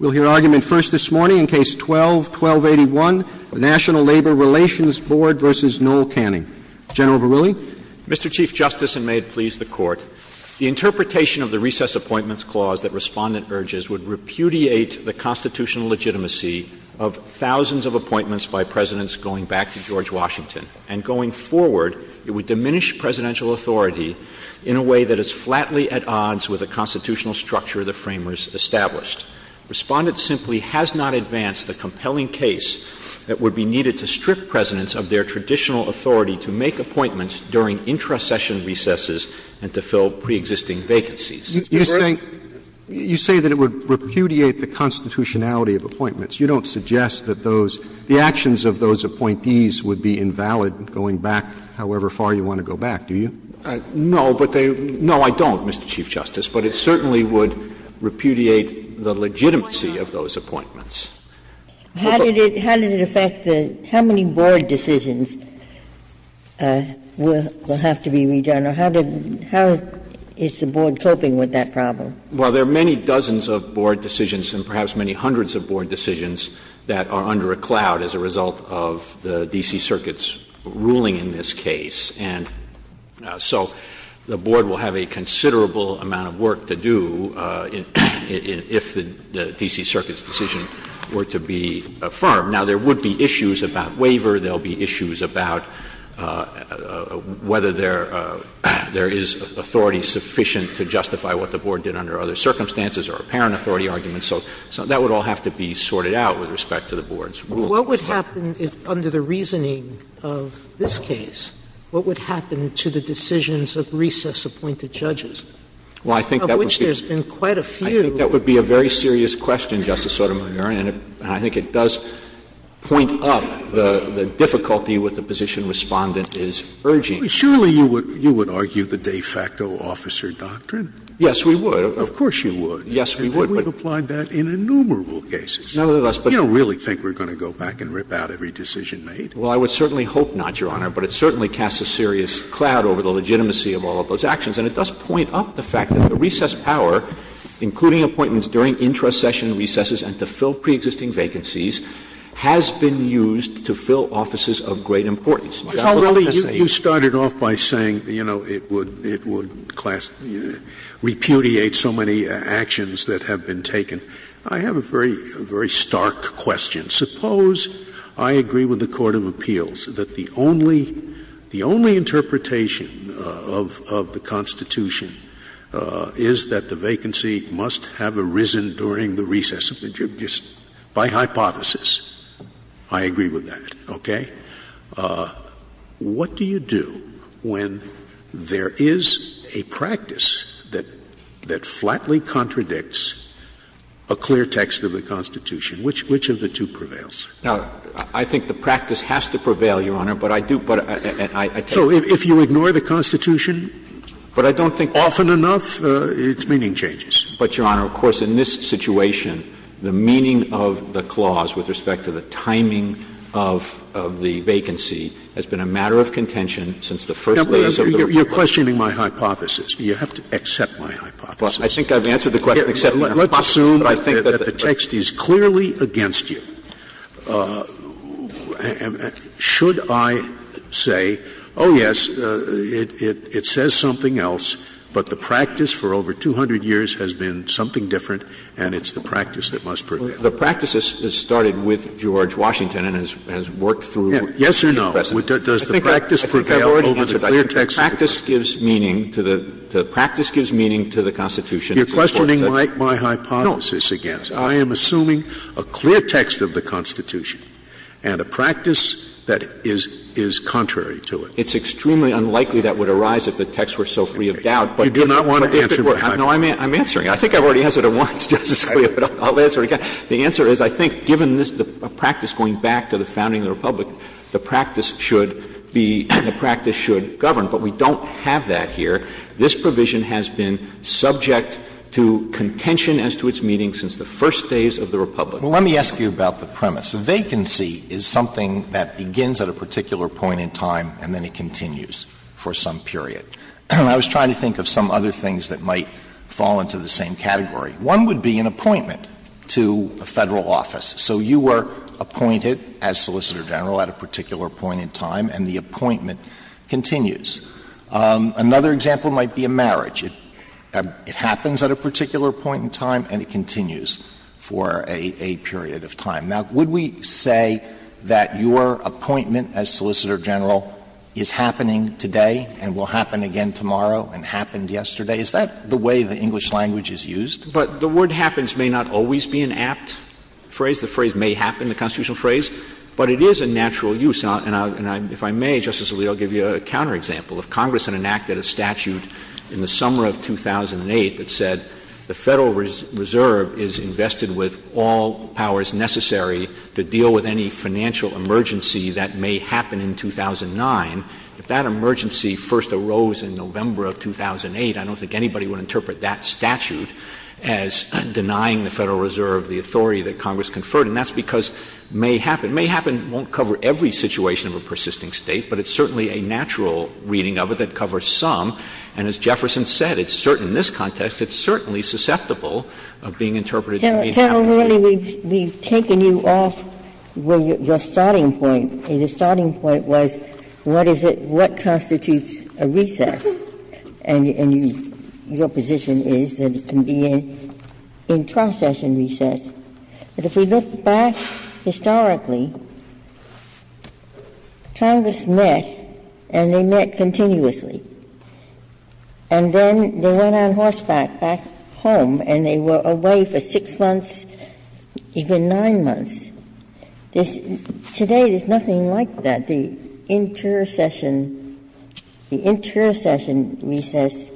Mr. Chief Justice, and may it please the Court, the interpretation of the Recess Appointments Clause that Respondent urges would repudiate the constitutional legitimacy of thousands of appointments by Presidents going back to George Washington. And going forward, it would diminish presidential authority in a way that is flatly at odds with the constitutional structure the Framers established. Respondent simply has not advanced the compelling case that would be needed to strip Presidents of their traditional authority to make appointments during intra-session recesses and to fill preexisting vacancies. Is that correct? You think — you say that it would repudiate the constitutionality of appointments. You don't suggest that those — the actions of those appointees would be invalid going back however far you want to go back, do you? No, but they — no, I don't, Mr. Chief Justice. But it certainly would repudiate the legitimacy of those appointments. How did it — how did it affect the — how many board decisions will have to be redone? Or how did — how is the board coping with that problem? Well, there are many dozens of board decisions and perhaps many hundreds of board decisions that are under a cloud as a result of the D.C. Circuit's ruling in this case. And so the board will have a considerable amount of work to do if the D.C. Circuit's decision were to be affirmed. Now, there would be issues about waiver. There will be issues about whether there is authority sufficient to justify what the board did under other circumstances or apparent authority arguments. And so that would all have to be sorted out with respect to the board's ruling. What would happen if — under the reasoning of this case, what would happen to the decisions of recess-appointed judges, of which there's been quite a few? Well, I think that would be — I think that would be a very serious question, Justice Sotomayor, and I think it does point up the difficulty with the position Respondent is urging. Surely you would argue the de facto officer doctrine? Yes, we would. Of course you would. Yes, we would. But we've applied that in innumerable cases. None of us, but — You don't really think we're going to go back and rip out every decision made. Well, I would certainly hope not, Your Honor, but it certainly casts a serious cloud over the legitimacy of all of those actions. And it does point up the fact that the recess hour, including appointments during intra-session recesses and to fill preexisting vacancies, has been used to fill offices of great importance. My God, what a mistake. You started off by saying, you know, it would repudiate so many actions that have been taken. I have a very stark question. Suppose I agree with the Court of Appeals that the only interpretation of the Constitution is that the vacancy must have arisen during the recess of the judges by hypothesis. I agree with that, okay? What do you do when there is a practice that flatly contradicts a clear text of the Constitution? Which of the two prevails? Now, I think the practice has to prevail, Your Honor, but I do — So if you ignore the Constitution often enough, its meaning changes. But Your Honor, of course, in this situation, the meaning of the clause with respect to the timing of the vacancy has been a matter of contention since the first recess of the — You're questioning my hypothesis. You have to accept my hypothesis. I think I've answered the question, Your Honor. Let's assume that the text is clearly against you. Should I say, oh, yes, it says something else, but the practice for over 200 years has been something different, and it's the practice that must prevail? The practice has started with George Washington and has worked through — Yes or no? Does the practice prevail over the clear text? I think the practice gives meaning to the — the practice gives meaning to the Constitution — You're questioning my hypothesis again. I am assuming a clear text of the Constitution and a practice that is contrary to it. It's extremely unlikely that would arise if the text were so free of doubt, but — You do not want to answer my question. No, I'm answering it. I think I've already answered it once, Justice Scalia, but I'll answer it again. The answer is, I think, given the practice going back to the founding of the Republic, the practice should be — the practice should govern, but we don't have that here. This provision has been subject to contention as to its meaning since the first days of the Republic. Well, let me ask you about the premise. Vacancy is something that begins at a particular point in time and then it continues for some period. I was trying to think of some other things that might fall into the same category. One would be an appointment to a federal office. So you were appointed as Solicitor General at a particular point in time and the appointment continues. Another example might be a marriage. It happens at a particular point in time and it continues for a period of time. Now, would we say that your appointment as Solicitor General is happening today and will happen again tomorrow and happened yesterday? Is that the way the English language is used? But the word happens may not always be an apt phrase. The phrase may happen, the constitutional phrase, but it is a natural use. And if I may, Justice Alito, I'll give you a counterexample. If Congress enacted a statute in the summer of 2008 that said the Federal Reserve is invested with all powers necessary to deal with any financial emergency that may happen in 2009, if that emergency first arose in November of 2008, I don't think anybody would interpret that statute as denying the Federal Reserve the authority that Congress conferred. And that's because may happen. May happen won't cover every situation of a persisting state, but it's certainly a natural reading of it that covers some. And as Jefferson said, it's certain in this context, it's certainly susceptible of being interpreted as may happen. Carol, really, we've taken you off your starting point, and your starting point was, what is it, what constitutes a recess? And your position is that it can be an in-processing recess. But if we look back historically, Congress met, and they met continuously. And then they went on horseback back home, and they were away for six months, even nine months. Today, there's nothing like that, the intercession, the intercession recess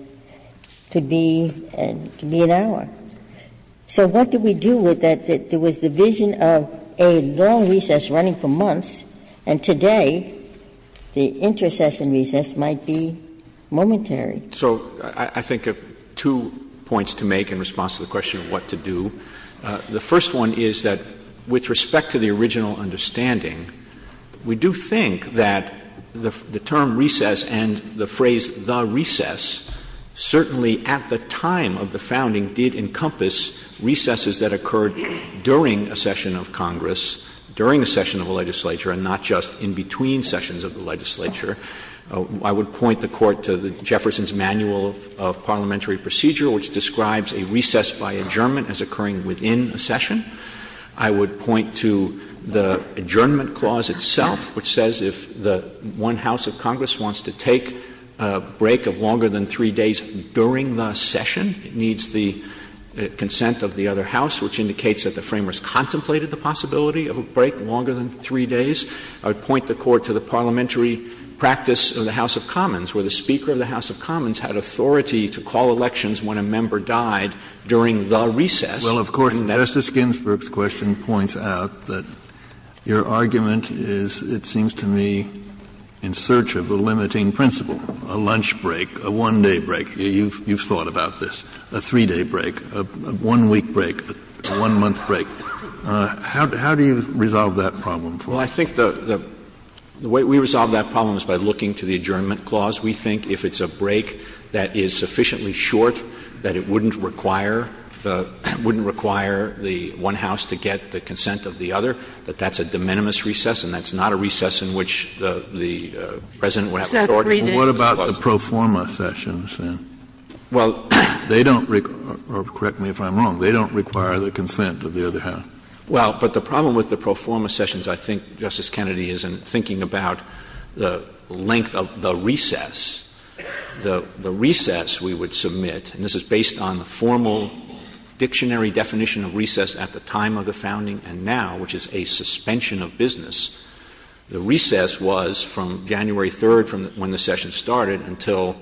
to be an hour. So what do we do with that? There was the vision of a long recess running for months, and today, the intercession recess might be momentary. So I think there are two points to make in response to the question of what to do. The first one is that with respect to the original understanding, we do think that the term recess and the phrase the recess certainly at the time of the founding did encompass recesses that occurred during a session of Congress, during a session of the legislature, and not just in between sessions of the legislature. I would point the Court to Jefferson's Manual of Parliamentary Procedure, which describes a recess by adjournment as occurring within a session. I would point to the adjournment clause itself, which says if the one house of Congress wants to take a break of longer than three days during the session, it needs the consent of the other house, which indicates that the framers contemplated the possibility of a break longer than three days. I would point the Court to the parliamentary practice of the House of Commons, where the Speaker of the House of Commons had authority to call elections when a member died during the recess. Well, of course, Justice Ginsburg's question points out that your argument is, it seems to me, in search of a limiting principle, a lunch break, a one-day break. You've thought about this, a three-day break, a one-week break, a one-month break. How do you resolve that problem for us? Well, I think the way we resolve that problem is by looking to the adjournment clause. We think if it's a break that is sufficiently short that it wouldn't require the one house to get the consent of the other, that that's a de minimis recess, and that's not a recess in which the President would have authority. What about the pro forma sessions, then? Well — They don't — or correct me if I'm wrong — they don't require the consent of the other house. Well, but the problem with the pro forma sessions, I think, Justice Kennedy, is in thinking about the length of the recess. The recess we would submit — and this is based on the formal dictionary definition of recess at the time of the founding and now, which is a suspension of business — the recess was from January 3rd, when the session started, until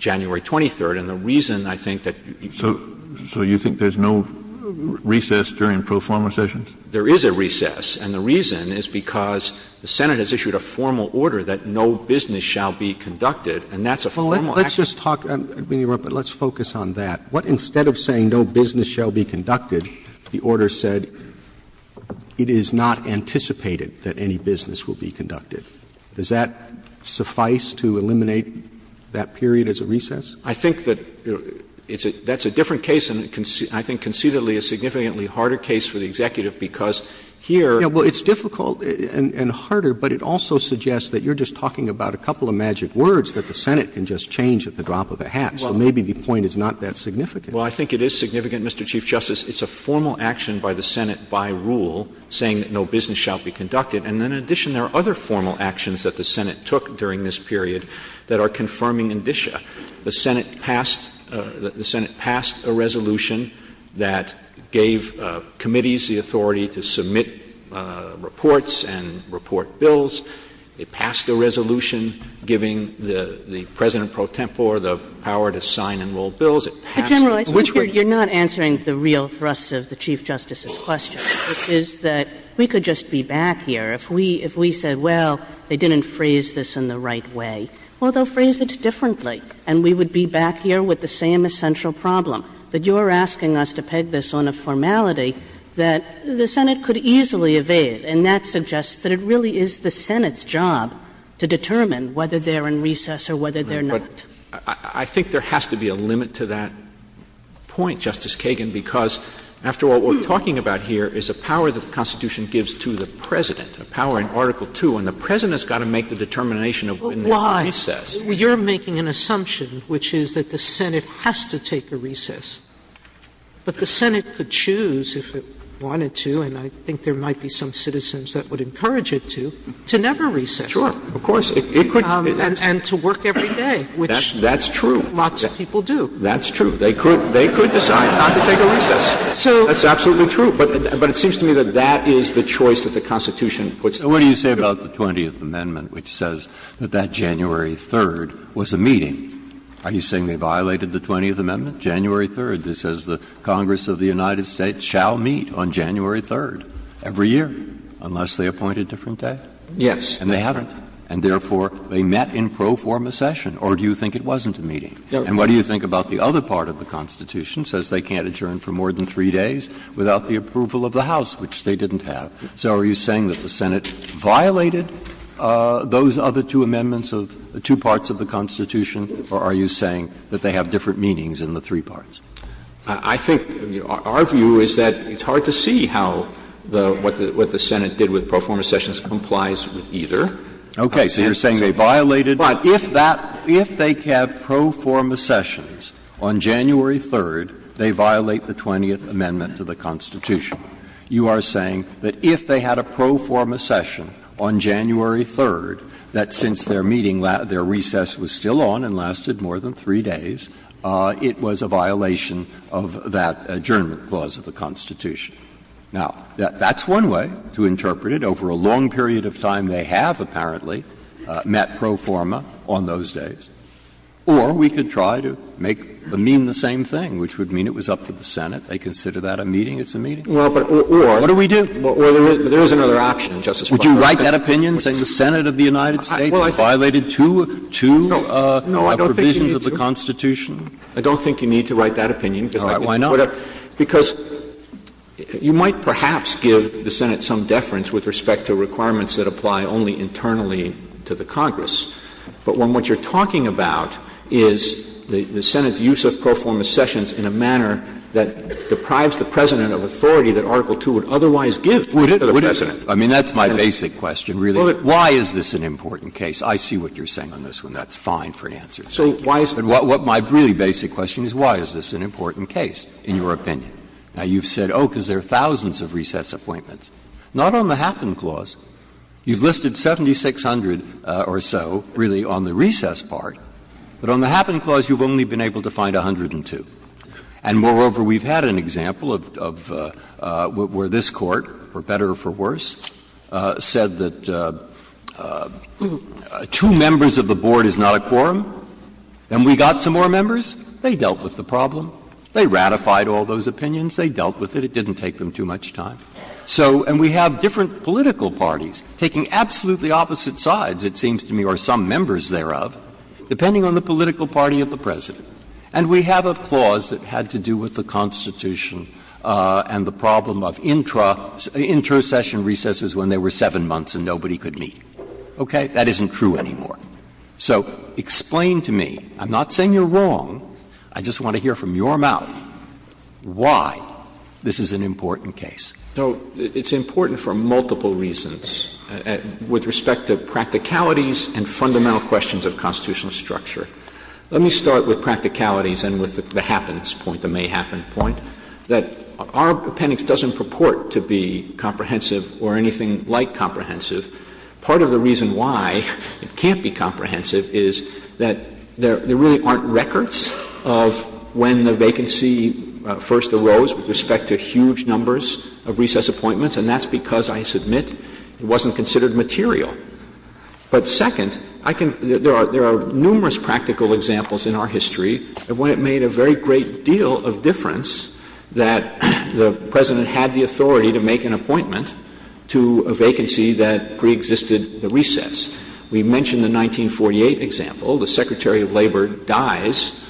January 23rd. And the reason, I think, that — So you think there's no recess during pro forma sessions? There is a recess, and the reason is because the Senate has issued a formal order that no business shall be conducted, and that's a formal — Let's just talk — let's focus on that. Instead of saying no business shall be conducted, the order said it is not anticipated that any business will be conducted. Does that suffice to eliminate that period as a recess? I think that that's a different case and I think conceivably a significantly harder case for the Executive because here — Well, it's difficult and harder, but it also suggests that you're just talking about a couple of magic words that the Senate can just change at the drop of a hat. So maybe the point is not that significant. Well, I think it is significant, Mr. Chief Justice. It's a formal action by the Senate by rule saying that no business shall be conducted. And in addition, there are other formal actions that the Senate took during this period that are confirming ambitia. The Senate passed a resolution that gave committees the authority to submit reports and report bills. They passed a resolution giving the President pro tempore the power to sign and roll bills. General, I think you're not answering the real thrust of the Chief Justice's question, which is that we could just be back here if we said, well, they didn't phrase this in the right way. Well, they'll phrase it differently and we would be back here with the same essential problem, that you're asking us to peg this on a formality that the Senate could easily evade. And that suggests that it really is the Senate's job to determine whether they're in recess or whether they're not. I think there has to be a limit to that point, Justice Kagan, because after all, what we're talking about here is a power that the Constitution gives to the President, a power in Article II, and the President's got to make the determination of when they're in recess. Well, why? You're making an assumption, which is that the Senate has to take a recess. But the Senate could choose if it wanted to, and I think there might be some citizens that would encourage it to, to never recess. Sure. Of course. And to work every day, which lots of people do. That's true. They could decide not to take a recess. That's absolutely true. But it seems to me that that is the choice that the Constitution puts out. So what do you say about the 20th Amendment, which says that that January 3rd was a meeting? Are you saying they violated the 20th Amendment, January 3rd, that says the Congress of the United States shall meet on January 3rd every year unless they appoint a different day? Yes. And they haven't. And therefore, they met in pro forma session. Or do you think it wasn't a meeting? And what do you think about the other part of the Constitution, says they can't adjourn a session for more than three days without the approval of the House, which they didn't have. So are you saying that the Senate violated those other two amendments of the two parts of the Constitution, or are you saying that they have different meanings in the three parts? I think our view is that it's hard to see how the — what the Senate did with pro forma sessions complies with either. Okay. So you're saying they violated — But if that — if they had pro forma sessions on January 3rd, they violate the 20th Amendment to the Constitution. You are saying that if they had a pro forma session on January 3rd, that since their meeting — their recess was still on and lasted more than three days, it was a violation of that adjournment clause of the Constitution. Now, that's one way to interpret it. The other way to interpret it is that if the Senate had a meeting on January 3rd, they would have met pro forma on those days. Or we could try to make — mean the same thing, which would mean it was up to the Senate. They consider that a meeting, it's a meeting? Well, but — or — What do we do? There is another option, Justice Breyer. Would you write that opinion, saying the Senate of the United States violated two — two provisions of the Constitution? No, I don't think you need to. Why not? Because you might perhaps give the Senate some deference with respect to requirements that apply only internally to the Congress. But when what you're talking about is the Senate's use of pro forma sessions in a manner that deprives the President of authority that Article II would otherwise give to the President. I mean, that's my basic question, really. Why is this an important case? I see what you're saying on this one. That's fine for an answer. So why is — what my really basic question is, why is this an important case in your opinion? Now, you've said, oh, because there are thousands of recess appointments. Not on the Happen Clause. You've listed 7,600 or so, really, on the recess part. But on the Happen Clause, you've only been able to find 102. And moreover, we've had an example of — where this Court, for better or for worse, said that two members of the Board is not a quorum. And we got some more members. They dealt with the problem. They ratified all those opinions. They dealt with it. It didn't take them too much time. So — and we have different political parties taking absolutely opposite sides, it seems to me, or some members thereof, depending on the political party of the President. And we have a clause that had to do with the Constitution and the problem of intro session recesses when there were seven months and nobody could meet. Okay? That isn't true anymore. So, explain to me — I'm not saying you're wrong. I just want to hear from your mouth why this is an important case. So, it's important for multiple reasons, with respect to practicalities and fundamental questions of constitutional structure. Let me start with practicalities and with the happenest point, the may-happen point, that our appendix doesn't purport to be comprehensive or anything like comprehensive. Part of the reason why it can't be comprehensive is that there really aren't records of when the vacancy first arose with respect to huge numbers of recess appointments, and that's because, I submit, it wasn't considered material. But second, I can — there are numerous practical examples in our history of when it made a very great deal of difference that the President had the authority to make an appointment to a vacancy that preexisted the recess. We mentioned the 1948 example. The Secretary of Labor dies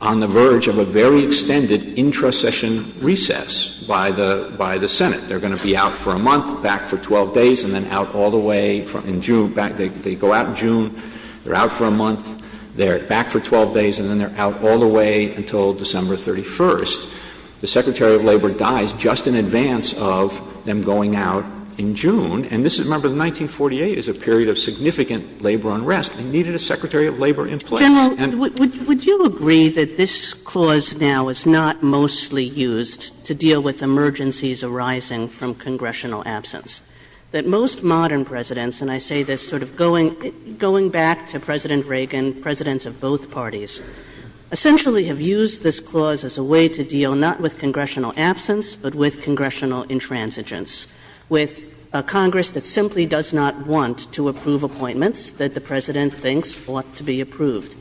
on the verge of a very extended intro session recess by the Senate. They're going to be out for a month, back for 12 days, and then out all the way in June — they go out in June, they're out for a month, they're back for 12 days, and then they're out all the way until December 31st. The Secretary of Labor dies just in advance of them going out in June, and this is — remember, 1948 is a period of significant labor unrest. We needed a Secretary of Labor in place. General, would you agree that this clause now is not mostly used to deal with emergencies arising from congressional absence? That most modern presidents — and I say this sort of going back to President Reagan, and presidents of both parties — essentially have used this clause as a way to deal not with congressional absence, but with congressional intransigence. With a Congress that simply does not want to approve appointments that the President thinks ought to be approved.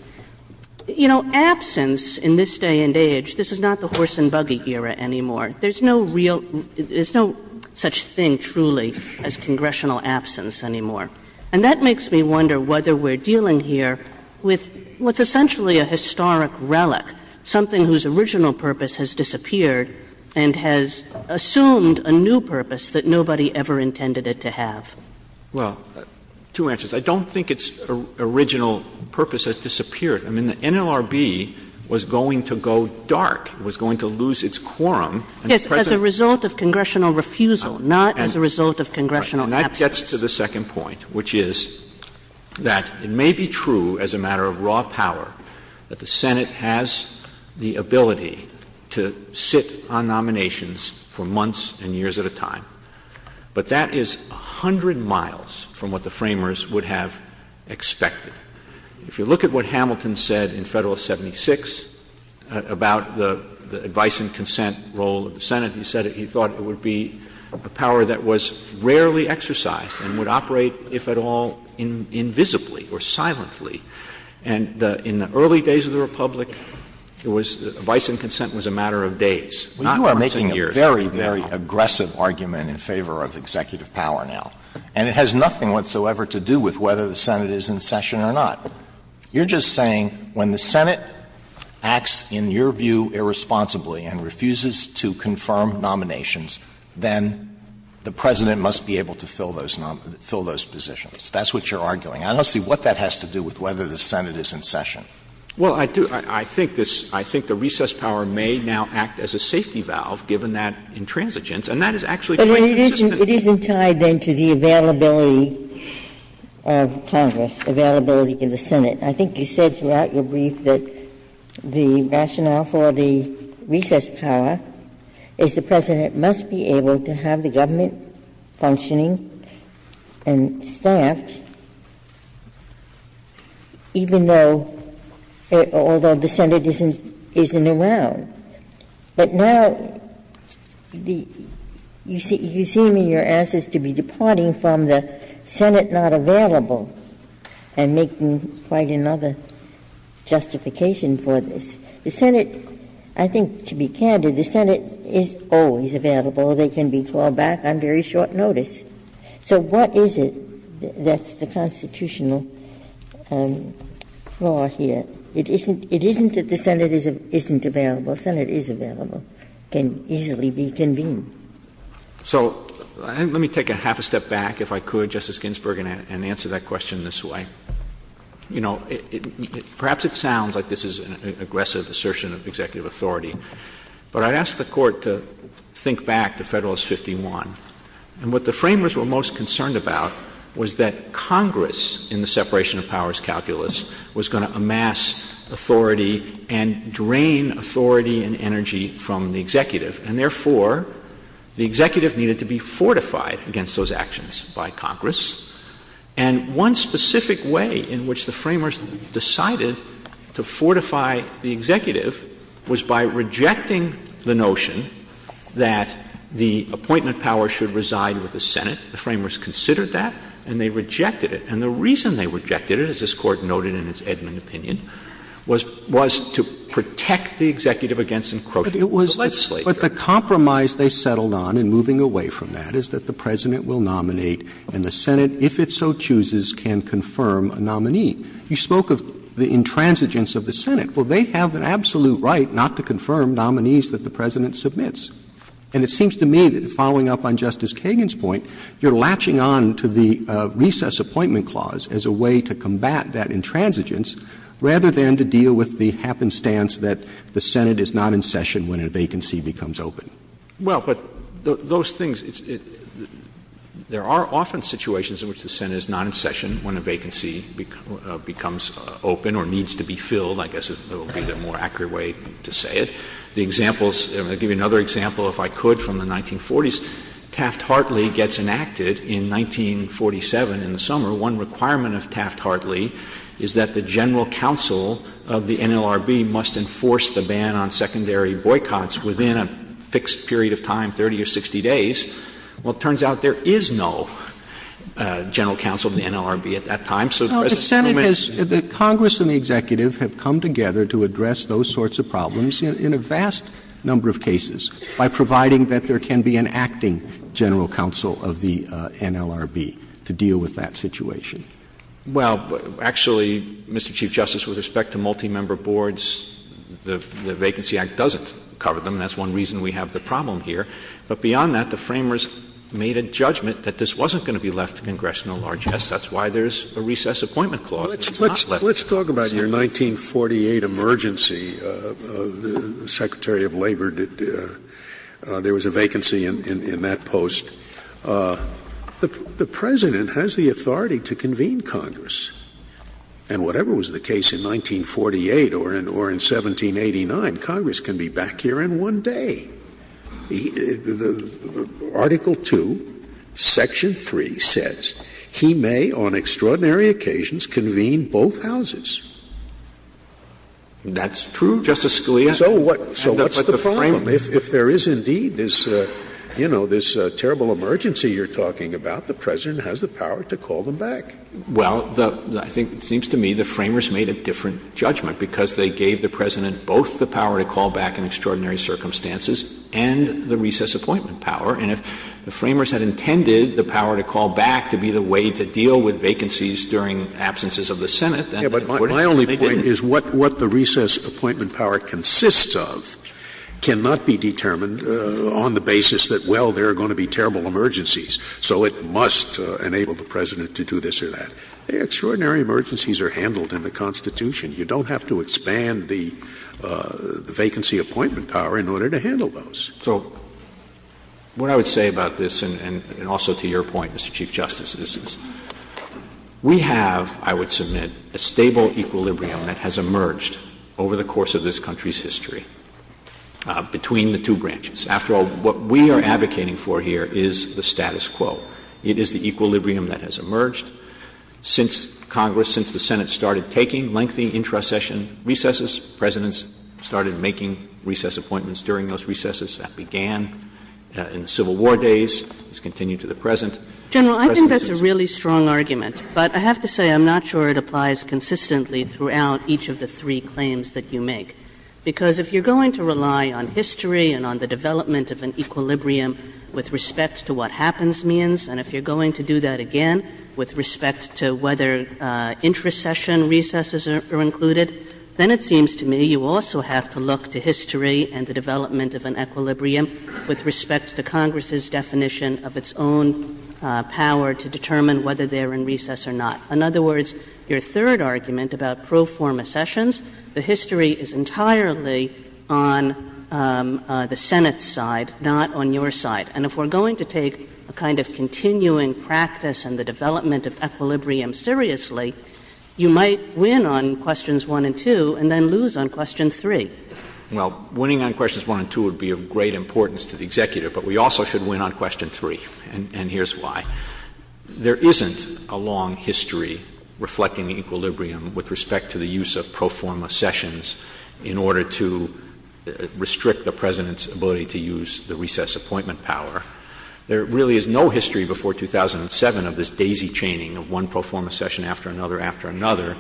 You know, absence in this day and age, this is not the horse and buggy era anymore. There's no real — there's no such thing, truly, as congressional absence anymore. And that makes me wonder whether we're dealing here with what's essentially a historic relic, something whose original purpose has disappeared and has assumed a new purpose that nobody ever intended it to have. Well, two answers. I don't think its original purpose has disappeared. I mean, the NLRB was going to go dark, was going to lose its quorum. As a result of congressional refusal, not as a result of congressional absence. Which gets to the second point, which is that it may be true, as a matter of raw power, that the Senate has the ability to sit on nominations for months and years at a time. But that is 100 miles from what the framers would have expected. If you look at what Hamilton said in Federalist 76 about the advice and consent role of the power that was rarely exercised and would operate, if at all, invisibly or silently. And in the early days of the Republic, advice and consent was a matter of days, not months and years. You are making a very, very aggressive argument in favor of executive power now. And it has nothing whatsoever to do with whether the Senate is in session or not. You're just saying when the Senate acts, in your view, irresponsibly and refuses to confirm nominations, then the President must be able to fill those positions. That's what you're arguing. I don't see what that has to do with whether the Senate is in session. Well, I do. I think the recess power may now act as a safety valve, given that intransigence. And that is actually quite consistent. But it isn't tied, then, to the availability of Congress, availability in the Senate. And I think you said throughout your brief that the rationale for the recess power is the President must be able to have the government functioning and staffed, even though the Senate isn't around. But now you seem to be departing from the Senate not available and making quite another justification for this. The Senate, I think, to be candid, the Senate is always available. They can be called back on very short notice. So what is it that's the constitutional flaw here? It isn't that the Senate isn't available. The Senate is available. It can easily be convened. So let me take a half a step back, if I could, Justice Ginsburg, and answer that question this way. You know, perhaps it sounds like this is an aggressive assertion of executive authority. But I'd ask the Court to think back to Federalist 51. And what the framers were most concerned about was that Congress, in the separation of powers calculus, was going to amass authority and drain authority and energy from the executive. And therefore, the executive needed to be fortified against those actions by Congress. And one specific way in which the framers decided to fortify the executive was by rejecting the notion that the appointment power should reside with the Senate. The framers considered that, and they rejected it. And the reason they rejected it, as this Court noted in its Edmund opinion, was to protect the executive against some quotations. But the compromise they settled on in moving away from that is that the President will nominate, and the Senate, if it so chooses, can confirm a nominee. You spoke of the intransigence of the Senate. Well, they have an absolute right not to confirm nominees that the President submits. And it seems to me that, following up on Justice Kagan's point, you're latching on to the recess appointment clause as a way to combat that intransigence, rather than to deal with the happenstance that the Senate is not in session when a vacancy becomes open. Well, but those things, there are often situations in which the Senate is not in session when a vacancy becomes open or needs to be filled, I guess is the more accurate way to say it. I'll give you another example, if I could, from the 1940s. Taft-Hartley gets enacted in 1947 in the summer. One requirement of Taft-Hartley is that the general counsel of the NLRB must enforce the ban on secondary boycotts within a fixed period of time, 30 or 60 days. Well, it turns out there is no general counsel of the NLRB at that time. Congress and the executive have come together to address those sorts of problems in a vast number of cases, by providing that there can be an acting general counsel of the NLRB to deal with that situation. Well, actually, Mr. Chief Justice, with respect to multi-member boards, the Vacancy Act doesn't cover them. That's one reason we have the problem here. But beyond that, the framers made a judgment that this wasn't going to be left to congressional largeness. That's why there's a recess appointment clause. Well, let's talk about your 1948 emergency. The Secretary of Labor, there was a vacancy in that post. The President has the authority to convene Congress. And whatever was the case in 1948 or in 1789, Congress can be back here in one day. Article 2, Section 3 says, he may, on extraordinary occasions, convene both houses. That's true, Justice Scalia. So what's the problem? If there is indeed this terrible emergency you're talking about, the President has the power to call them back. Well, I think it seems to me the framers made a different judgment because they gave the President both the power to call back in extraordinary circumstances and the recess appointment power. And if the framers had intended the power to call back to be the way to deal with vacancies during absences of the Senate — Yeah, but my only point is what the recess appointment power consists of cannot be determined on the basis that, well, there are going to be terrible emergencies. So it must enable the President to do this or that. Extraordinary emergencies are handled in the Constitution. You don't have to expand the vacancy appointment power in order to handle those. So what I would say about this, and also to your point, Mr. Chief Justice, is this. We have, I would submit, a stable equilibrium that has emerged over the course of this country's history between the two branches. After all, what we are advocating for here is the status quo. It is the equilibrium that has emerged since Congress, since the Senate, started taking lengthening intra-session recesses. Presidents started making recess appointments during those recesses. That began in the Civil War days. It's continued to the present. General, I think that's a really strong argument, but I have to say I'm not sure it applies consistently throughout each of the three claims that you make. Because if you're going to rely on history and on the development of an equilibrium with respect to what happens means, and if you're going to do that again with respect to whether intra-session recesses are included, then it seems to me you also have to look to history and the development of an equilibrium with respect to Congress's definition of its own power to determine whether they're in recess or not. In other words, your third argument about pro forma sessions, the history is entirely on the Senate's side, not on your side. And if we're going to take a kind of continuing practice and the development of equilibrium seriously, you might win on questions one and two and then lose on question three. Well, winning on questions one and two would be of great importance to the executive, but we also should win on question three, and here's why. There isn't a long history reflecting equilibrium with respect to the use of pro forma sessions in order to restrict the president's ability to use the recess appointment power. There really is no history before 2007 of this daisy-chaining of one pro forma session after another after another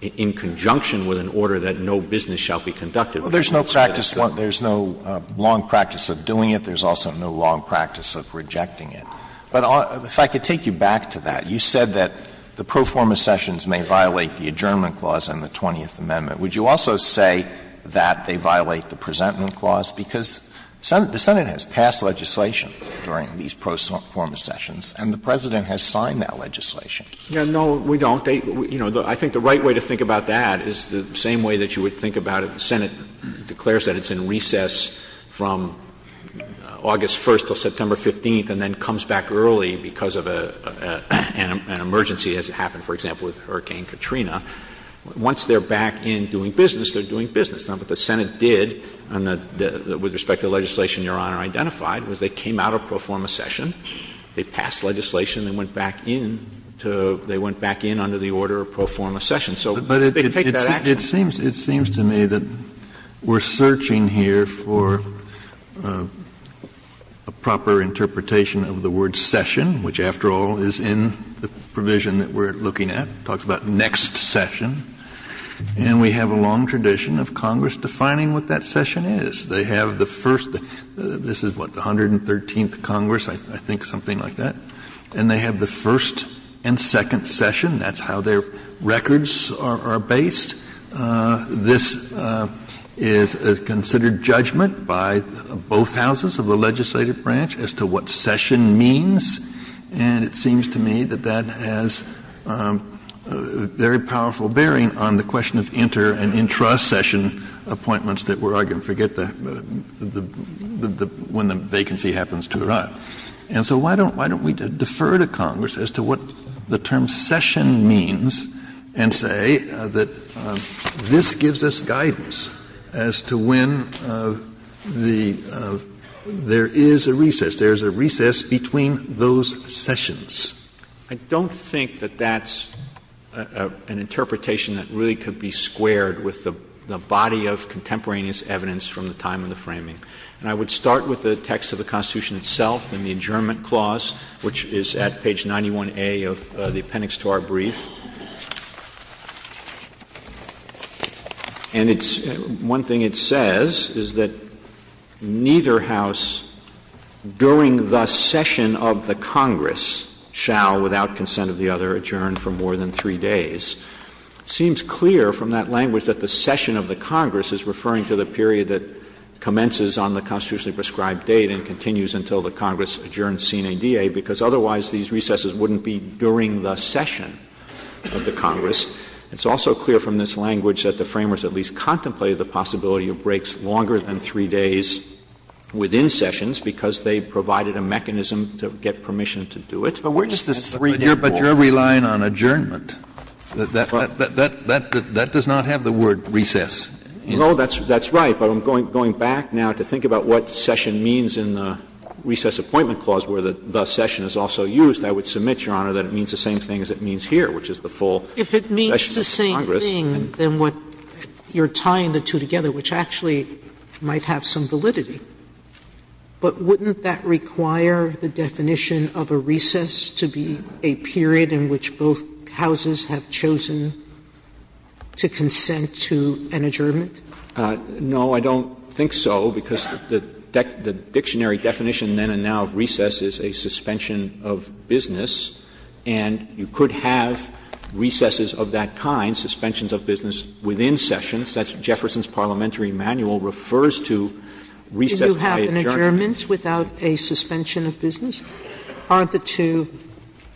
in conjunction with an order that no business shall be conducted with respect to it. Well, there's no long practice of doing it. There's also no long practice of rejecting it. But if I could take you back to that. You said that the pro forma sessions may violate the adjournment clause in the 20th Amendment. Would you also say that they violate the presentment clause? Because the Senate has passed legislation during these pro forma sessions, and the president has signed that legislation. Yeah, no, we don't. I think the right way to think about that is the same way that you would think about it. The Senate declares that it's in recess from August 1st until September 15th, and then comes back early because of an emergency that has happened, for example, with Hurricane Katrina. Once they're back in doing business, they're doing business. Now, what the Senate did with respect to the legislation Your Honor identified was they came out of pro forma session, they passed legislation, and they went back in under the order of pro forma session. It seems to me that we're searching here for a proper interpretation of the word session, which, after all, is in the provision that we're looking at. It talks about next session. And we have a long tradition of Congress defining what that session is. They have the first, this is what, the 113th Congress, I think something like that. And they have the first and second session. That's how their records are based. This is considered judgment by both houses of the legislative branch as to what session means. And it seems to me that that has a very powerful bearing on the question of inter- and intra-session appointments that we're arguing, forget that, when the vacancy happens too hot. And so why don't we defer to Congress as to what the term session means and say that this gives us guidance as to when there is a recess. There is a recess between those sessions. I don't think that that's an interpretation that really could be squared with the body of contemporaneous evidence from the time of the framing. And I would start with the text of the Constitution itself and the adjournment clause, which is at page 91A of the appendix to our brief. And one thing it says is that neither house, during the session of the Congress, shall, without consent of the other, adjourn for more than three days. It seems clear from that language that the session of the Congress is referring to the period that commences on the constitutionally prescribed date and continues until the Congress adjourns CNADA, because otherwise these recesses wouldn't be during the session of the Congress. It's also clear from this language that the framers at least contemplated the possibility of breaks longer than three days within sessions because they provided a mechanism to get permission to do it. But you're relying on adjournment. That does not have the word recess. No, that's right. But I'm going back now to think about what session means in the recess appointment clause where the session is also used. I would submit, Your Honor, that it means the same thing as it means here, which is the full session of the Congress. If it means the same thing, then you're tying the two together, which actually might have some validity. But wouldn't that require the definition of a recess to be a period in which both houses have chosen to consent to an adjournment? No, I don't think so, because the dictionary definition then and now of recess is a suspension of business, and you could have recesses of that kind, suspensions of business within sessions. That's Jefferson's Parliamentary Manual refers to recess by adjournment. Do you have an adjournment without a suspension of business? Aren't the two the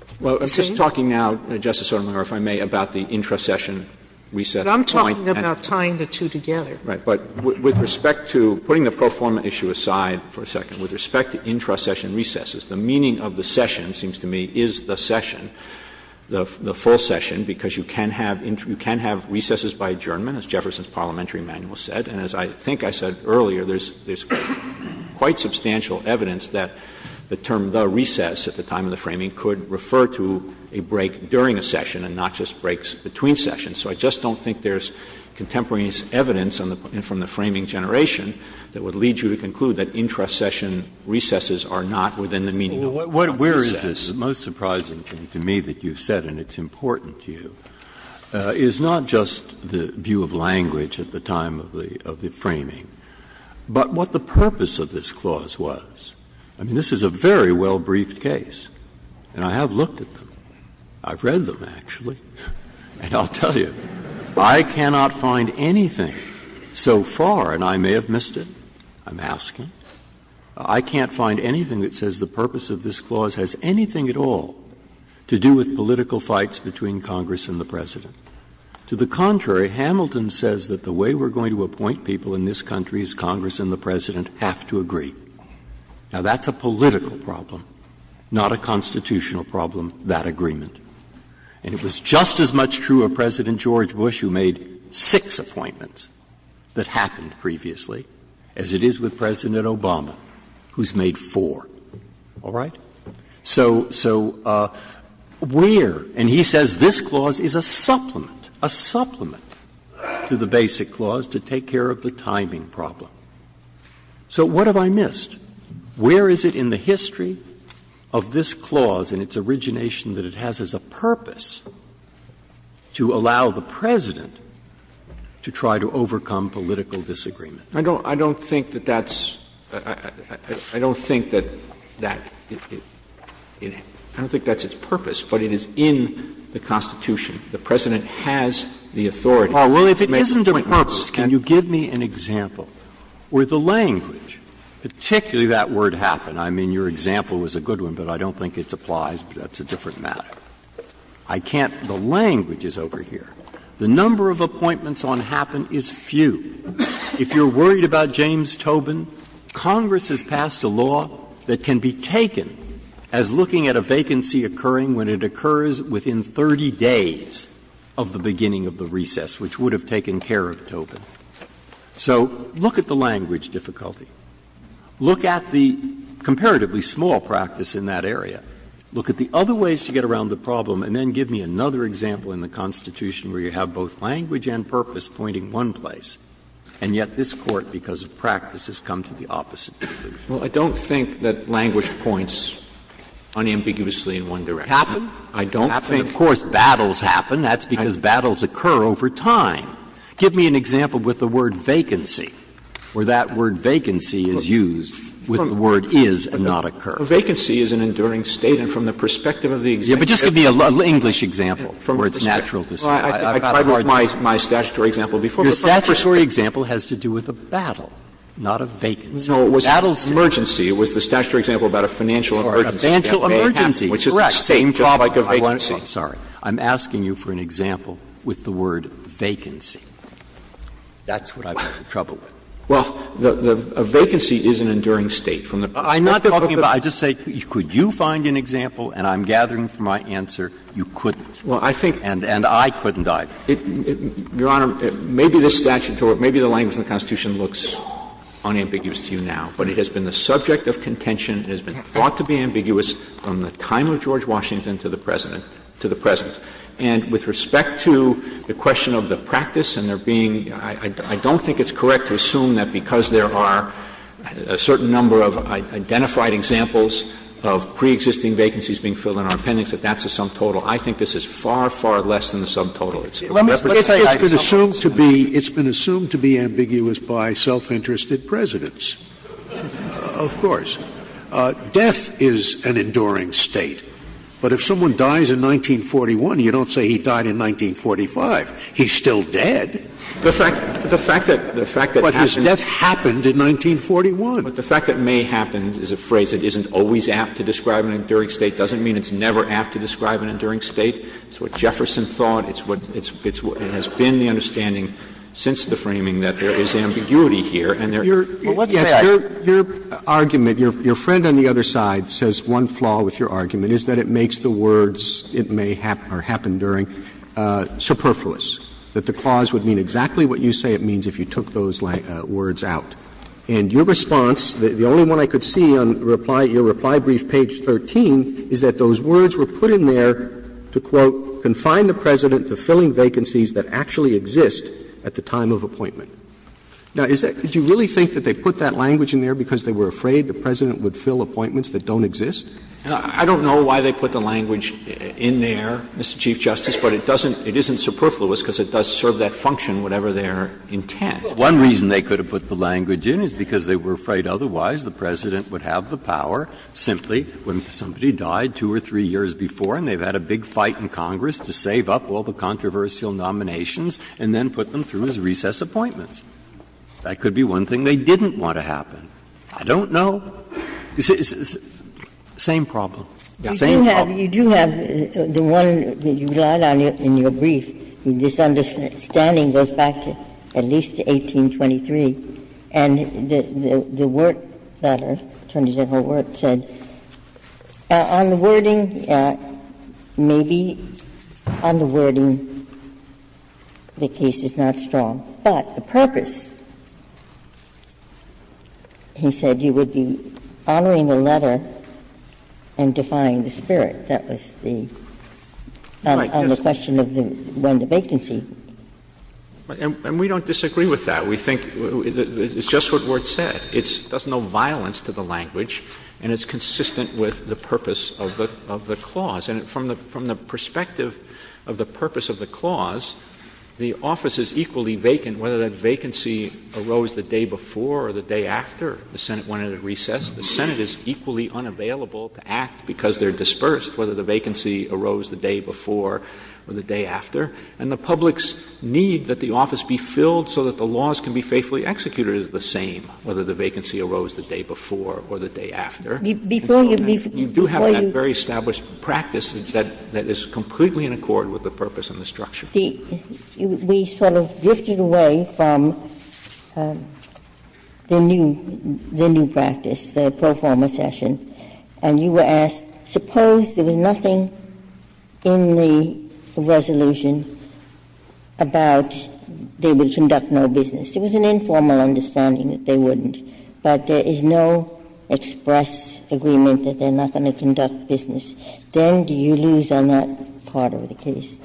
same? Well, I'm just talking now, Justice Sotomayor, if I may, about the intra-session recess point. But I'm talking about tying the two together. Right. But with respect to putting the pro forma issue aside for a second, with respect to intra-session recesses, the meaning of the session, it seems to me, is the session, the full session, because you can have recesses by adjournment, as Jefferson's Parliamentary Manual said. And as I think I said earlier, there's quite substantial evidence that the term the recess at the time of the framing could refer to a break during a session and not just breaks between sessions. So I just don't think there's contemporaneous evidence from the framing generation that would lead you to conclude that intra-session recesses are not within the meaning of a recess. Well, where is this most surprising to me that you've said, and it's important to you, is not just the view of language at the time of the framing, but what the purpose of this clause was. I mean, this is a very well-briefed case. And I have looked at them. I've read them, actually. And I'll tell you, I cannot find anything so far, and I may have missed it. I'm asking. I can't find anything that says the purpose of this clause has anything at all to do with political fights between Congress and the President. To the contrary, Hamilton says that the way we're going to appoint people in this country is Congress and the President have to agree. Now, that's a political problem, not a constitutional problem, that agreement. And it was just as much true of President George Bush, who made six appointments, that happened previously, as it is with President Obama, who's made four. All right? So where, and he says this clause is a supplement, a supplement to the basic clause to take care of the timing problem. So what have I missed? Where is it in the history of this clause and its origination that it has as a purpose to allow the President to try to overcome political disagreement? I don't think that that's its purpose, but it is in the Constitution. The President has the authority. Well, if it isn't a purpose, can you give me an example where the language, particularly that word happen. I mean, your example was a good one, but I don't think it applies. That's a different matter. I can't, the language is over here. The number of appointments on happen is few. If you're worried about James Tobin, Congress has passed a law that can be taken as looking at a vacancy occurring when it occurs within 30 days of the beginning of the recess, which would have taken care of Tobin. So look at the language difficulty. Look at the comparatively small practice in that area. Look at the other ways to get around the problem, and then give me another example in the Constitution where you have both language and purpose pointing one place, and yet this Court, because of practice, has come to the opposite conclusion. Well, I don't think that language points unambiguously in one direction. Happen. I don't think, of course, battles happen. That's because battles occur over time. Give me an example with the word vacancy, where that word vacancy is used with the word is and not occur. A vacancy is an enduring state, and from the perspective of the... Yeah, but just give me a little English example where it's natural to say... I tried with my statutory example before. Your statutory example has to do with a battle, not a vacancy. No, it was an emergency. It was the statutory example about a financial emergency. Or a financial emergency. Correct. Which is the same topic of vacancy. I'm sorry. I'm asking you for an example with the word vacancy. That's what I'm in trouble with. Well, a vacancy is an enduring state. I'm not talking about the... I just say could you find an example, and I'm gathering from my answer you couldn't. Well, I think... And I couldn't either. Your Honor, maybe this statute or maybe the language in the Constitution looks unambiguously to you now, but it has been the subject of contention. It has been thought to be ambiguous from the time of George Washington to the present. And with respect to the question of the practice and there being... I don't think it's correct to assume that because there are a certain number of identified examples of preexisting vacancies being filled in our appendix that that's a sum total. I think this is far, far less than the sum total. It's been assumed to be ambiguous by self-interested presidents. Of course. Death is an enduring state. But if someone dies in 1941, you don't say he died in 1945. He's still dead. But his death happened in 1941. But the fact that may happen is a phrase that isn't always apt to describe an enduring state doesn't mean it's never apt to describe an enduring state. It's what Jefferson thought. It has been the understanding since the framing that there is ambiguity here. Your argument, your friend on the other side says one flaw with your argument is that it makes the words it may happen or happen during superfluous, that the clause would mean exactly what you say it means if you took those words out. And your response, the only one I could see on your reply brief, page 13, is that those words were put in there to, quote, confine the President to filling vacancies that actually exist at the time of appointment. Now, is that — do you really think that they put that language in there because they were afraid the President would fill appointments that don't exist? I don't know why they put the language in there, Mr. Chief Justice, but it doesn't — it isn't superfluous because it does serve that function, whatever their intent. One reason they could have put the language in is because they were afraid otherwise the President would have the power simply when somebody died two or three years before and they've had a big fight in Congress to save up all the controversial nominations and then put them through his recess appointments. That could be one thing they didn't want to happen. I don't know. Same problem. You do have the one that you got in your brief. This understanding goes back at least to 1823. And the work letter, in terms of her work, said, on the wording, maybe on the wording the case is not strong. But the purpose, he said, you would be following the letter and defying the spirit. That was the — on the question of when the vacancy — And we don't disagree with that. We think it's just what was said. There's no violence to the language and it's consistent with the purpose of the clause. And from the perspective of the purpose of the clause, the office is equally vacant whether that vacancy arose the day before or the day after the Senate wanted a recess. The Senate is equally unavailable to act because they're dispersed whether the vacancy arose the day before or the day after. And the public's need that the office be filled so that the laws can be faithfully executed is the same whether the vacancy arose the day before or the day after. You do have that very established practice that is completely in accord with the purpose and the structure. We sort of drifted away from the new practice, the pro forma session. And you were asked, suppose there was nothing in the resolution about they would conduct no business. It was an informal understanding that they wouldn't. But there is no express agreement that they're not going to conduct business. Then do you lose on that part of the case?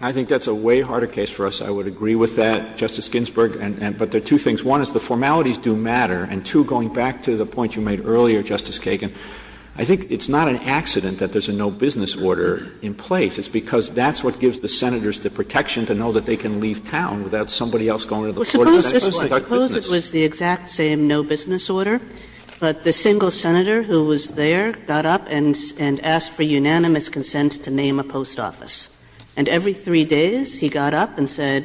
I think that's a way harder case for us. I would agree with that, Justice Ginsburg. But there are two things. One is the formalities do matter. And two, going back to the point you made earlier, Justice Kagan, I think it's not an accident that there's a no business order in place. It's because that's what gives the senators the protection to know that they can leave town without somebody else going to the floor to conduct business. Suppose it was the exact same no business order, but the single senator who was there got up and asked for unanimous consent to name a post office. And every three days he got up and said,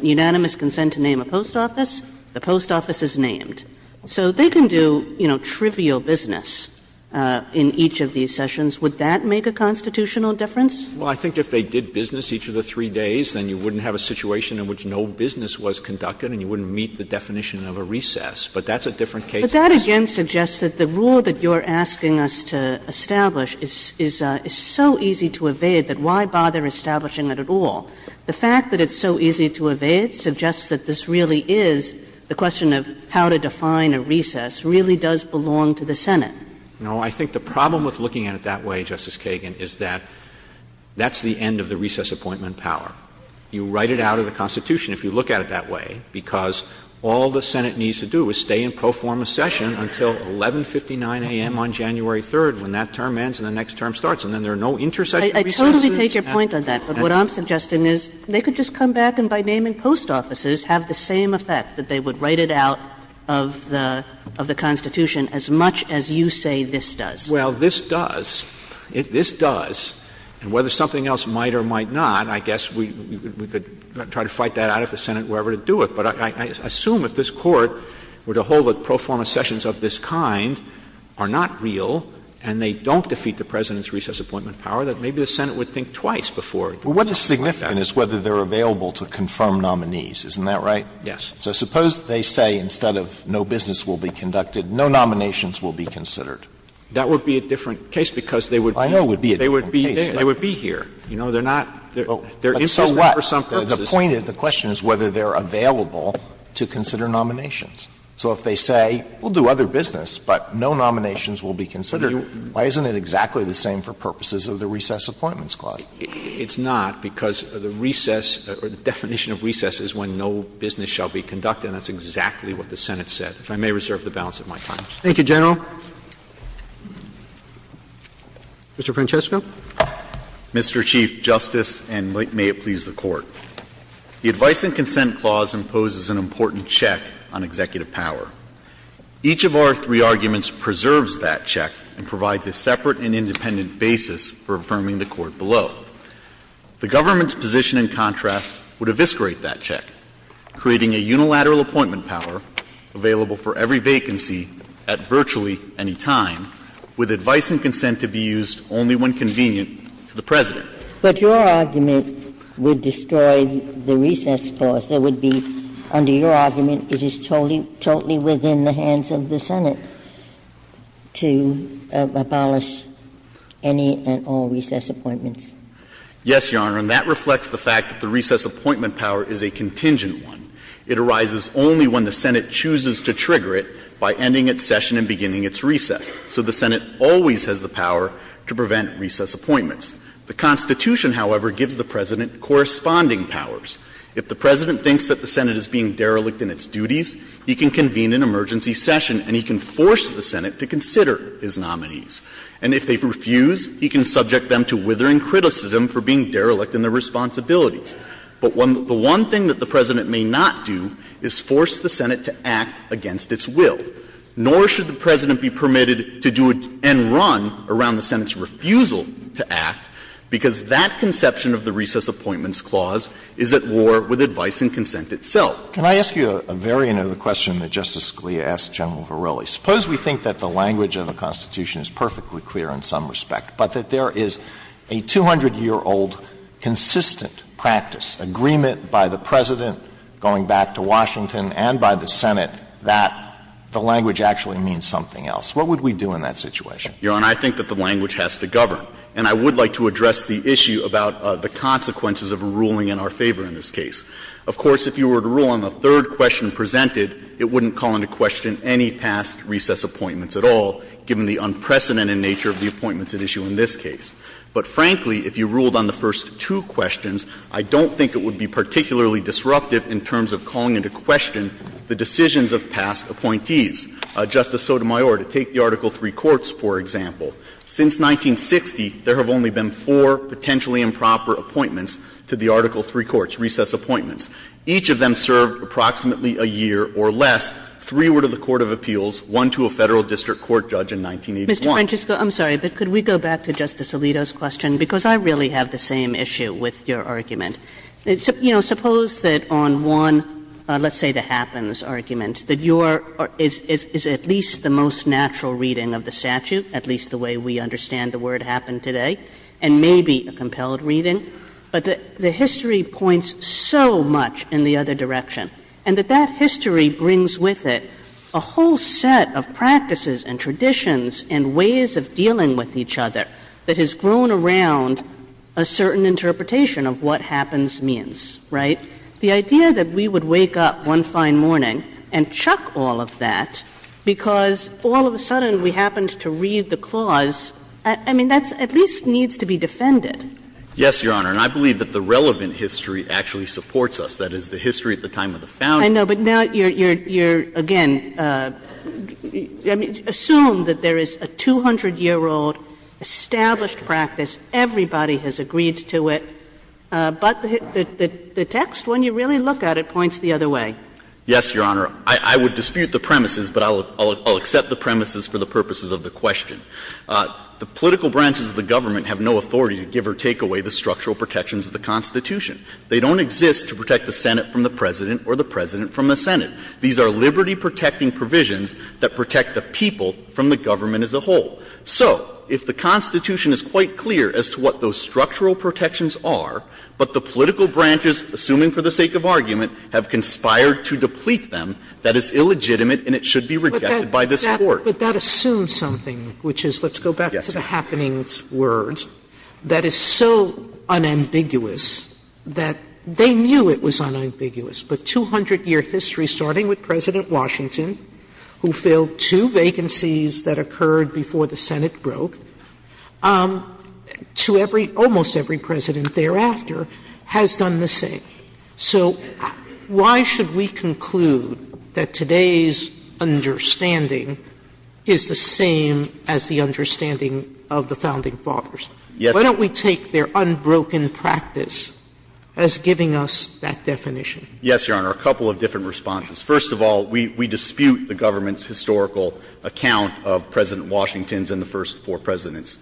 unanimous consent to name a post office, the post office is named. So they can do trivial business in each of these sessions. Would that make a constitutional difference? Well, I think if they did business each of the three days, then you wouldn't have a situation in which no business was conducted and you wouldn't meet the definition of a recess. But that's a different case. But that, again, suggests that the rule that you're asking us to establish is so easy to evade that why bother establishing it at all? The fact that it's so easy to evade suggests that this really is the question of how to define a recess really does belong to the Senate. No, I think the problem with looking at it that way, Justice Kagan, is that that's the end of the recess appointment power. You write it out of the Constitution if you look at it that way, because all the Senate needs to do is stay and proform a session until 1159 a.m. on January 3rd when that term ends and the next term starts. And then there are no intercessions. I totally take your point on that. But what I'm suggesting is they could just come back and by naming post offices have the same effect, that they would write it out of the Constitution as much as you say this does. Well, this does. This does. And whether something else might or might not, I guess we could try to fight that out if the Senate were ever to do it. But I assume if this Court were to hold that proforma sessions of this kind are not real and they don't defeat the President's recess appointment power, that maybe the Senate would think twice before. Well, what is significant is whether they're available to confirm nominees. Isn't that right? Yes. So suppose they say instead of no business will be conducted, no nominations will be considered. That would be a different case because they would be here. You know, they're not. So what? The point of the question is whether they're available to consider nominations. So if they say we'll do other business but no nominations will be considered, why isn't it exactly the same for purposes of the recess appointments clause? It's not because the definition of recess is when no business shall be conducted and that's exactly what the Senate said. I may reserve the balance of my time. Thank you, General. Mr. Francesco? Mr. Chief Justice, and may it please the Court, the Advice and Consent Clause imposes an important check on executive power. Each of our three arguments preserves that check and provides a separate and independent basis for affirming the Court below. The government's position, in contrast, would eviscerate that check, creating a unilateral appointment power available for every vacancy at virtually any time with advice and consent to be used only when convenient to the President. But your argument would destroy the recess clause. It would be, under your argument, it is totally within the hands of the Senate to abolish any and all recess appointments. Yes, Your Honor, and that reflects the fact that the recess appointment power is a contingent one. It arises only when the Senate chooses to trigger it by ending its session and beginning its recess. So the Senate always has the power to prevent recess appointments. The Constitution, however, gives the President corresponding powers. If the President thinks that the Senate is being derelict in its duties, he can convene an emergency session and he can force the Senate to consider his nominees. And if they refuse, he can subject them to withering criticism for being derelict in their responsibilities. But the one thing that the President may not do is force the Senate to act against its will. Nor should the President be permitted to do and run around the Senate's refusal to act because that conception of the recess appointments clause is at war with advice and consent itself. Can I ask you a variant of the question that Justice Scalia asked General Verrilli? Suppose we think that the language of the Constitution is perfectly clear in some respect, but that there is a 200-year-old consistent practice, agreement by the President going back to Washington and by the Senate that the language actually means something else. What would we do in that situation? Your Honor, I think that the language has to govern. And I would like to address the issue about the consequences of a ruling in our favor in this case. Of course, if you were to rule on the third question presented, it wouldn't call into question any past recess appointments at all, given the unprecedented nature of the appointments at issue in this case. But frankly, if you ruled on the first two questions, I don't think it would be particularly disruptive in terms of calling into question the decisions of past appointees. Justice Sotomayor, to take the Article III courts, for example, since 1960 there have only been four potentially improper appointments to the Article III courts, recess appointments. Each of them served approximately a year or less. Three were to the Court of Appeals, one to a federal district court judge in 1981. Mr. Winchester, I'm sorry, but could we go back to Justice Alito's question? Because I really have the same issue with your argument. You know, suppose that on one, let's say the happens argument, that your is at least the most natural reading of the statute, at least the way we understand the word happened today, and maybe a compelled reading, but the history points so much in the other direction and that that history brings with it a whole set of practices and traditions and ways of dealing with each other that has grown around a certain interpretation of what happens means, right? The idea that we would wake up one fine morning and chuck all of that because all of a sudden we happened to read the clause, I mean, that at least needs to be defended. Yes, Your Honor, and I believe that the relevant history actually supports us, that is the history at the time of the founding. I know, but now you're, again, assume that there is a 200-year-old established practice, everybody has agreed to it, but the text, when you really look at it, points the other way. Yes, Your Honor. I would dispute the premises, but I'll accept the premises for the purposes of the question. The political branches of the government have no authority, give or take away the structural protections of the Constitution. They don't exist to protect the Senate from the President or the President from the Senate. These are liberty-protecting provisions that protect the people from the government as a whole. So, if the Constitution is quite clear as to what those structural protections are, but the political branches, assuming for the sake of argument, have conspired to deplete them, that is illegitimate and it should be rejected by this Court. But that assumes something, which is, let's go back to the happenings words, that is so unambiguous that they knew it was unambiguous, but 200-year history, starting with President Washington, who filled two vacancies that occurred before the Senate broke, to almost every President thereafter, has done the same. So, why should we conclude that today's understanding is the same as the understanding of the founding fathers? Why don't we take their unbroken practice as giving us that definition? Yes, Your Honor, a couple of different responses. First of all, we dispute the government's historical account of President Washington's and the first four Presidents'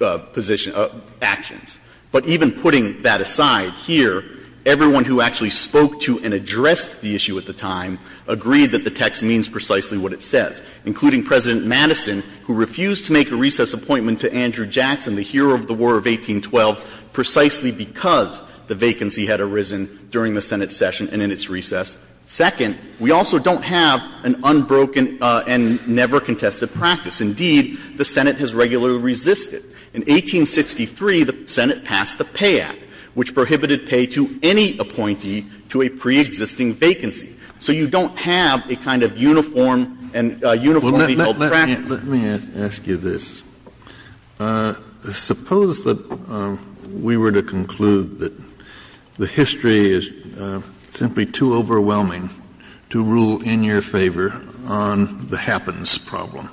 actions. But even putting that aside, here, everyone who actually spoke to and addressed the issue at the time agreed that the text means precisely what it says, including President Madison, who refused to make a recess appointment to Andrew Jackson, the hero of the War of 1812, precisely because the vacancy had arisen during the Senate session and in its recess. Second, we also don't have an unbroken and never contested practice. Indeed, the Senate has regularly resisted. In 1863, the Senate passed the Pay Act, which prohibited pay to any appointee to a preexisting vacancy. So you don't have a kind of uniform and uniformity called practice. Let me ask you this. Suppose that we were to conclude that the history is simply too overwhelming to rule in your favor on the happens problem.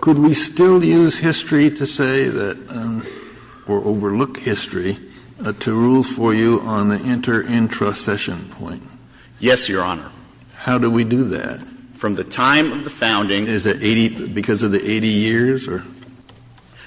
Could we still use history to say that, or overlook history, to rule for you on the inter-intra-session point? Yes, Your Honor. How do we do that? From the time of the founding, is it because of the 80 years?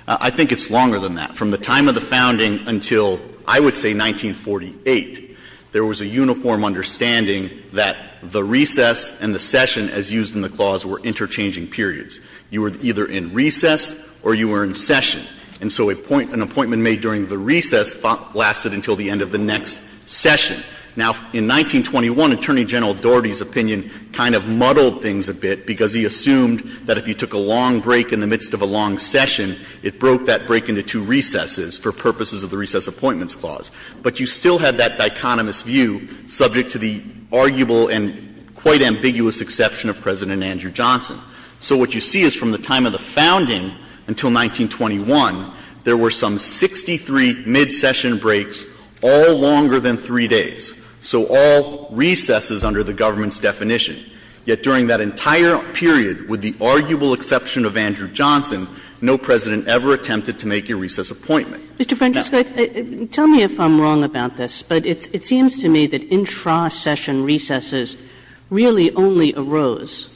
I think it's longer than that. From the time of the founding until, I would say, 1948, there was a uniform understanding that the recess and the session, as used in the clause, were interchanging periods. You were either in recess or you were in session. And so an appointment made during the recess lasted until the end of the next session. Now, in 1921, Attorney General Dougherty's opinion kind of muddled things a bit because he assumed that if you took a long break in the midst of a long session, it broke that break into two recesses for purposes of the Recess Appointments Clause. But you still had that dichotomous view subject to the arguable and quite ambiguous exception of President Andrew Johnson. So what you see is from the time of the founding until 1921, there were some 63 mid-session breaks, all longer than three days, so all recesses under the government's definition. Yet during that entire period, with the arguable exception of Andrew Johnson, no president ever attempted to make a recess appointment. Mr. French, tell me if I'm wrong about this, but it seems to me that intra-session recesses really only arose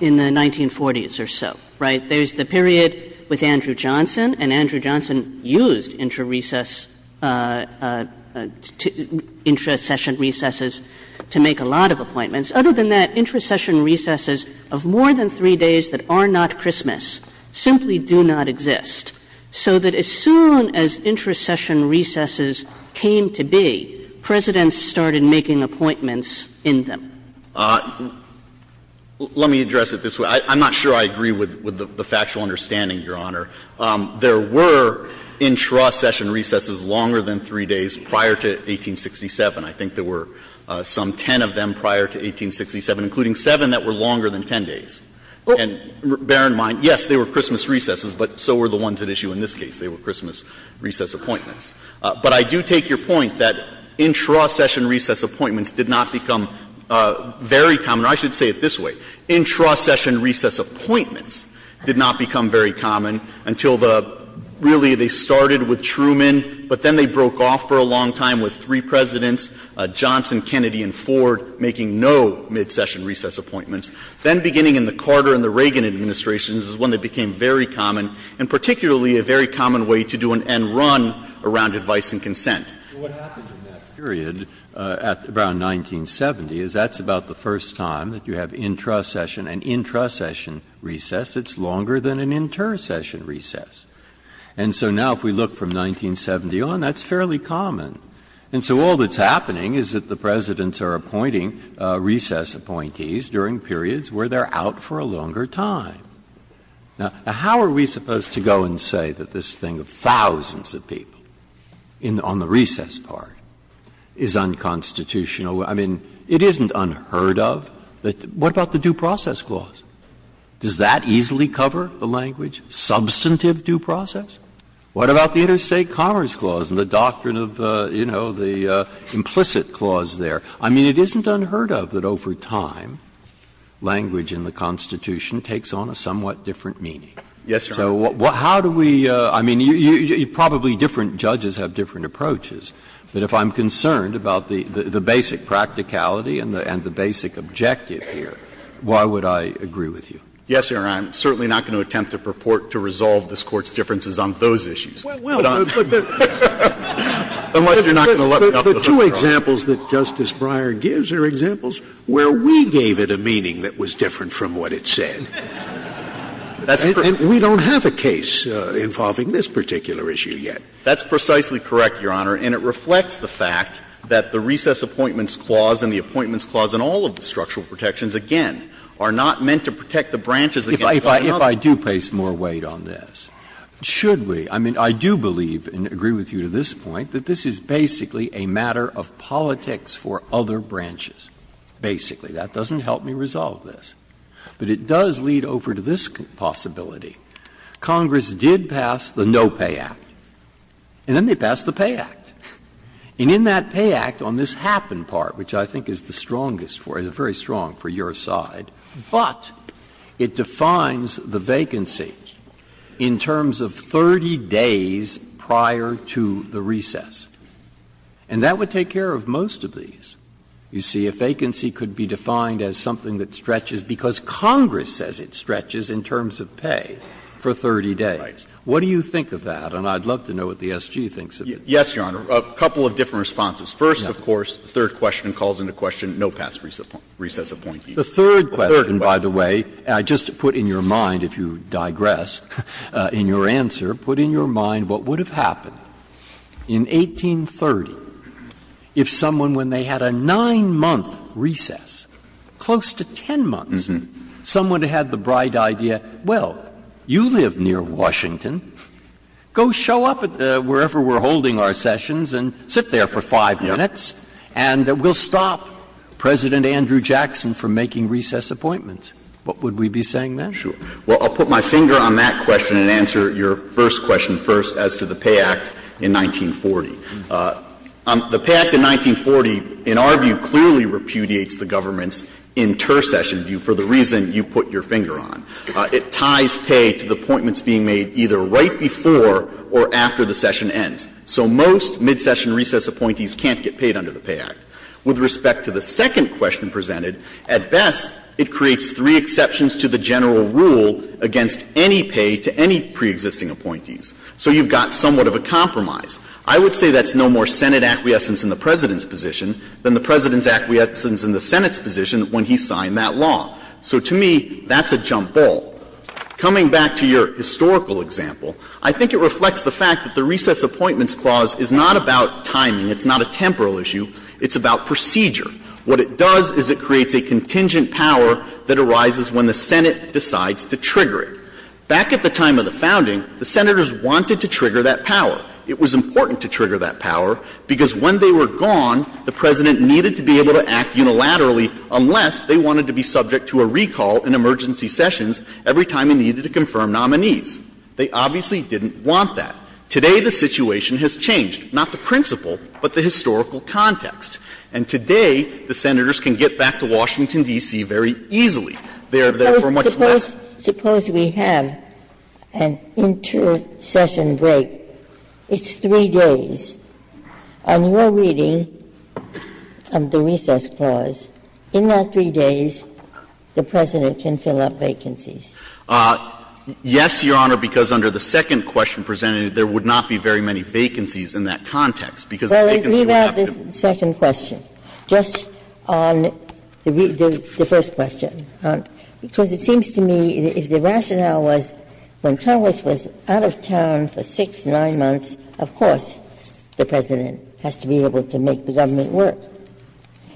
in the 1940s or so, right? That there's the period with Andrew Johnson, and Andrew Johnson used intra-session recesses to make a lot of appointments. Other than that, intra-session recesses of more than three days that are not Christmas simply do not exist. So that as soon as intra-session recesses came to be, presidents started making appointments in them. Let me address it this way. I'm not sure I agree with the factual understanding, Your Honor. There were intra-session recesses longer than three days prior to 1867. I think there were some ten of them prior to 1867, including seven that were longer than ten days. And bear in mind, yes, they were Christmas recesses, but so were the ones at issue in this case. They were Christmas recess appointments. But I do take your point that intra-session recess appointments did not become very common. I should say it this way. Intra-session recess appointments did not become very common until the — really, they started with Truman, but then they broke off for a long time with three presidents, Johnson, Kennedy, and Ford, making no mid-session recess appointments. Then beginning in the Carter and the Reagan administrations is one that became very common, and particularly a very common way to do an end run around advice and consent. What happened in that period around 1970 is that's about the first time that you have intra-session and intra-session recess that's longer than an inter-session recess. And so now if we look from 1970 on, that's fairly common. And so all that's happening is that the presidents are appointing recess appointees during periods where they're out for a longer time. Now, how are we supposed to go and say that this thing of thousands of people on the recess part is unconstitutional? I mean, it isn't unheard of. What about the due process clause? Does that easily cover the language? Substantive due process? What about the interstate commerce clause and the doctrine of, you know, the implicit clause there? I mean, it isn't unheard of that over time language in the Constitution takes on a somewhat different meaning. Yes, Your Honor. So how do we, I mean, probably different judges have different approaches. But if I'm concerned about the basic practicality and the basic objective here, why would I agree with you? Yes, Your Honor. I'm certainly not going to attempt to resolve this Court's differences on those issues. Well, well. But the two examples that Justice Breyer gives are examples where we gave it a meaning that was different from what it said. We don't have a case involving this particular issue yet. That's precisely correct, Your Honor. And it reflects the fact that the recess appointments clause and the appointments clause in all of the structural protections, again, are not meant to protect the branches. If I do place more weight on this, should we? I mean, I do believe and agree with you to this point that this is basically a matter of politics for other branches. Basically. That doesn't help me resolve this. But it does lead over to this possibility. Congress did pass the No Pay Act. And then they passed the Pay Act. And in that Pay Act, on this happen part, which I think is the strongest, very strong for your side, but it defines the vacancy in terms of 30 days prior to the recess. And that would take care of most of these. You see, a vacancy could be defined as something that stretches because Congress says it stretches in terms of pay for 30 days. What do you think of that? And I'd love to know what the SG thinks of it. Yes, Your Honor. A couple of different responses. First, of course, the third question calls into question no past recess appointees. The third question, by the way, just to put in your mind, if you digress, in your answer, put in your mind what would have happened in 1830 if someone, when they had a nine-month recess, close to 10 months, someone who had the bright idea, well, you live near Washington. Go show up wherever we're holding our sessions and sit there for five minutes. And we'll stop President Andrew Jackson from making recess appointments. What would we be saying then? Sure. Well, I'll put my finger on that question and answer your first question first as to the Pay Act in 1940. The Pay Act in 1940, in our view, clearly repudiates the government's intercession view for the reason you put your finger on. It ties pay to the appointments being made either right before or after the session ends. So most mid-session recess appointees can't get paid under the Pay Act. With respect to the second question presented, at best, it creates three exceptions to the general rule against any pay to any preexisting appointees. So you've got somewhat of a compromise. I would say that's no more Senate acquiescence in the President's position than the President's acquiescence in the Senate's position when he signed that law. So to me, that's a jump ball. Coming back to your historical example, I think it reflects the fact that the Recess Appointments Clause is not about timing. It's not a temporal issue. It's about procedure. What it does is it creates a contingent power that arises when the Senate decides to trigger it. Back at the time of the founding, the Senators wanted to trigger that power. It was important to trigger that power because when they were gone, the President needed to be able to act unilaterally unless they wanted to be subject to a recall in emergency sessions every time they needed to confirm nominees. They obviously didn't want that. Today, the situation has changed, not the principle, but the historical context. And today, the Senators can get back to Washington, D.C., very easily. Suppose we have an inter-session break. It's three days. On your reading of the Recess Clause, in that three days, the President can fill up vacancies. Yes, Your Honor, because under the second question presented, there would not be very many vacancies in that context. Well, let's leave out the second question. Just on the first question. Because it seems to me if the rationale was when Chavez was out of town for six, nine months, of course the President has to be able to make the government work.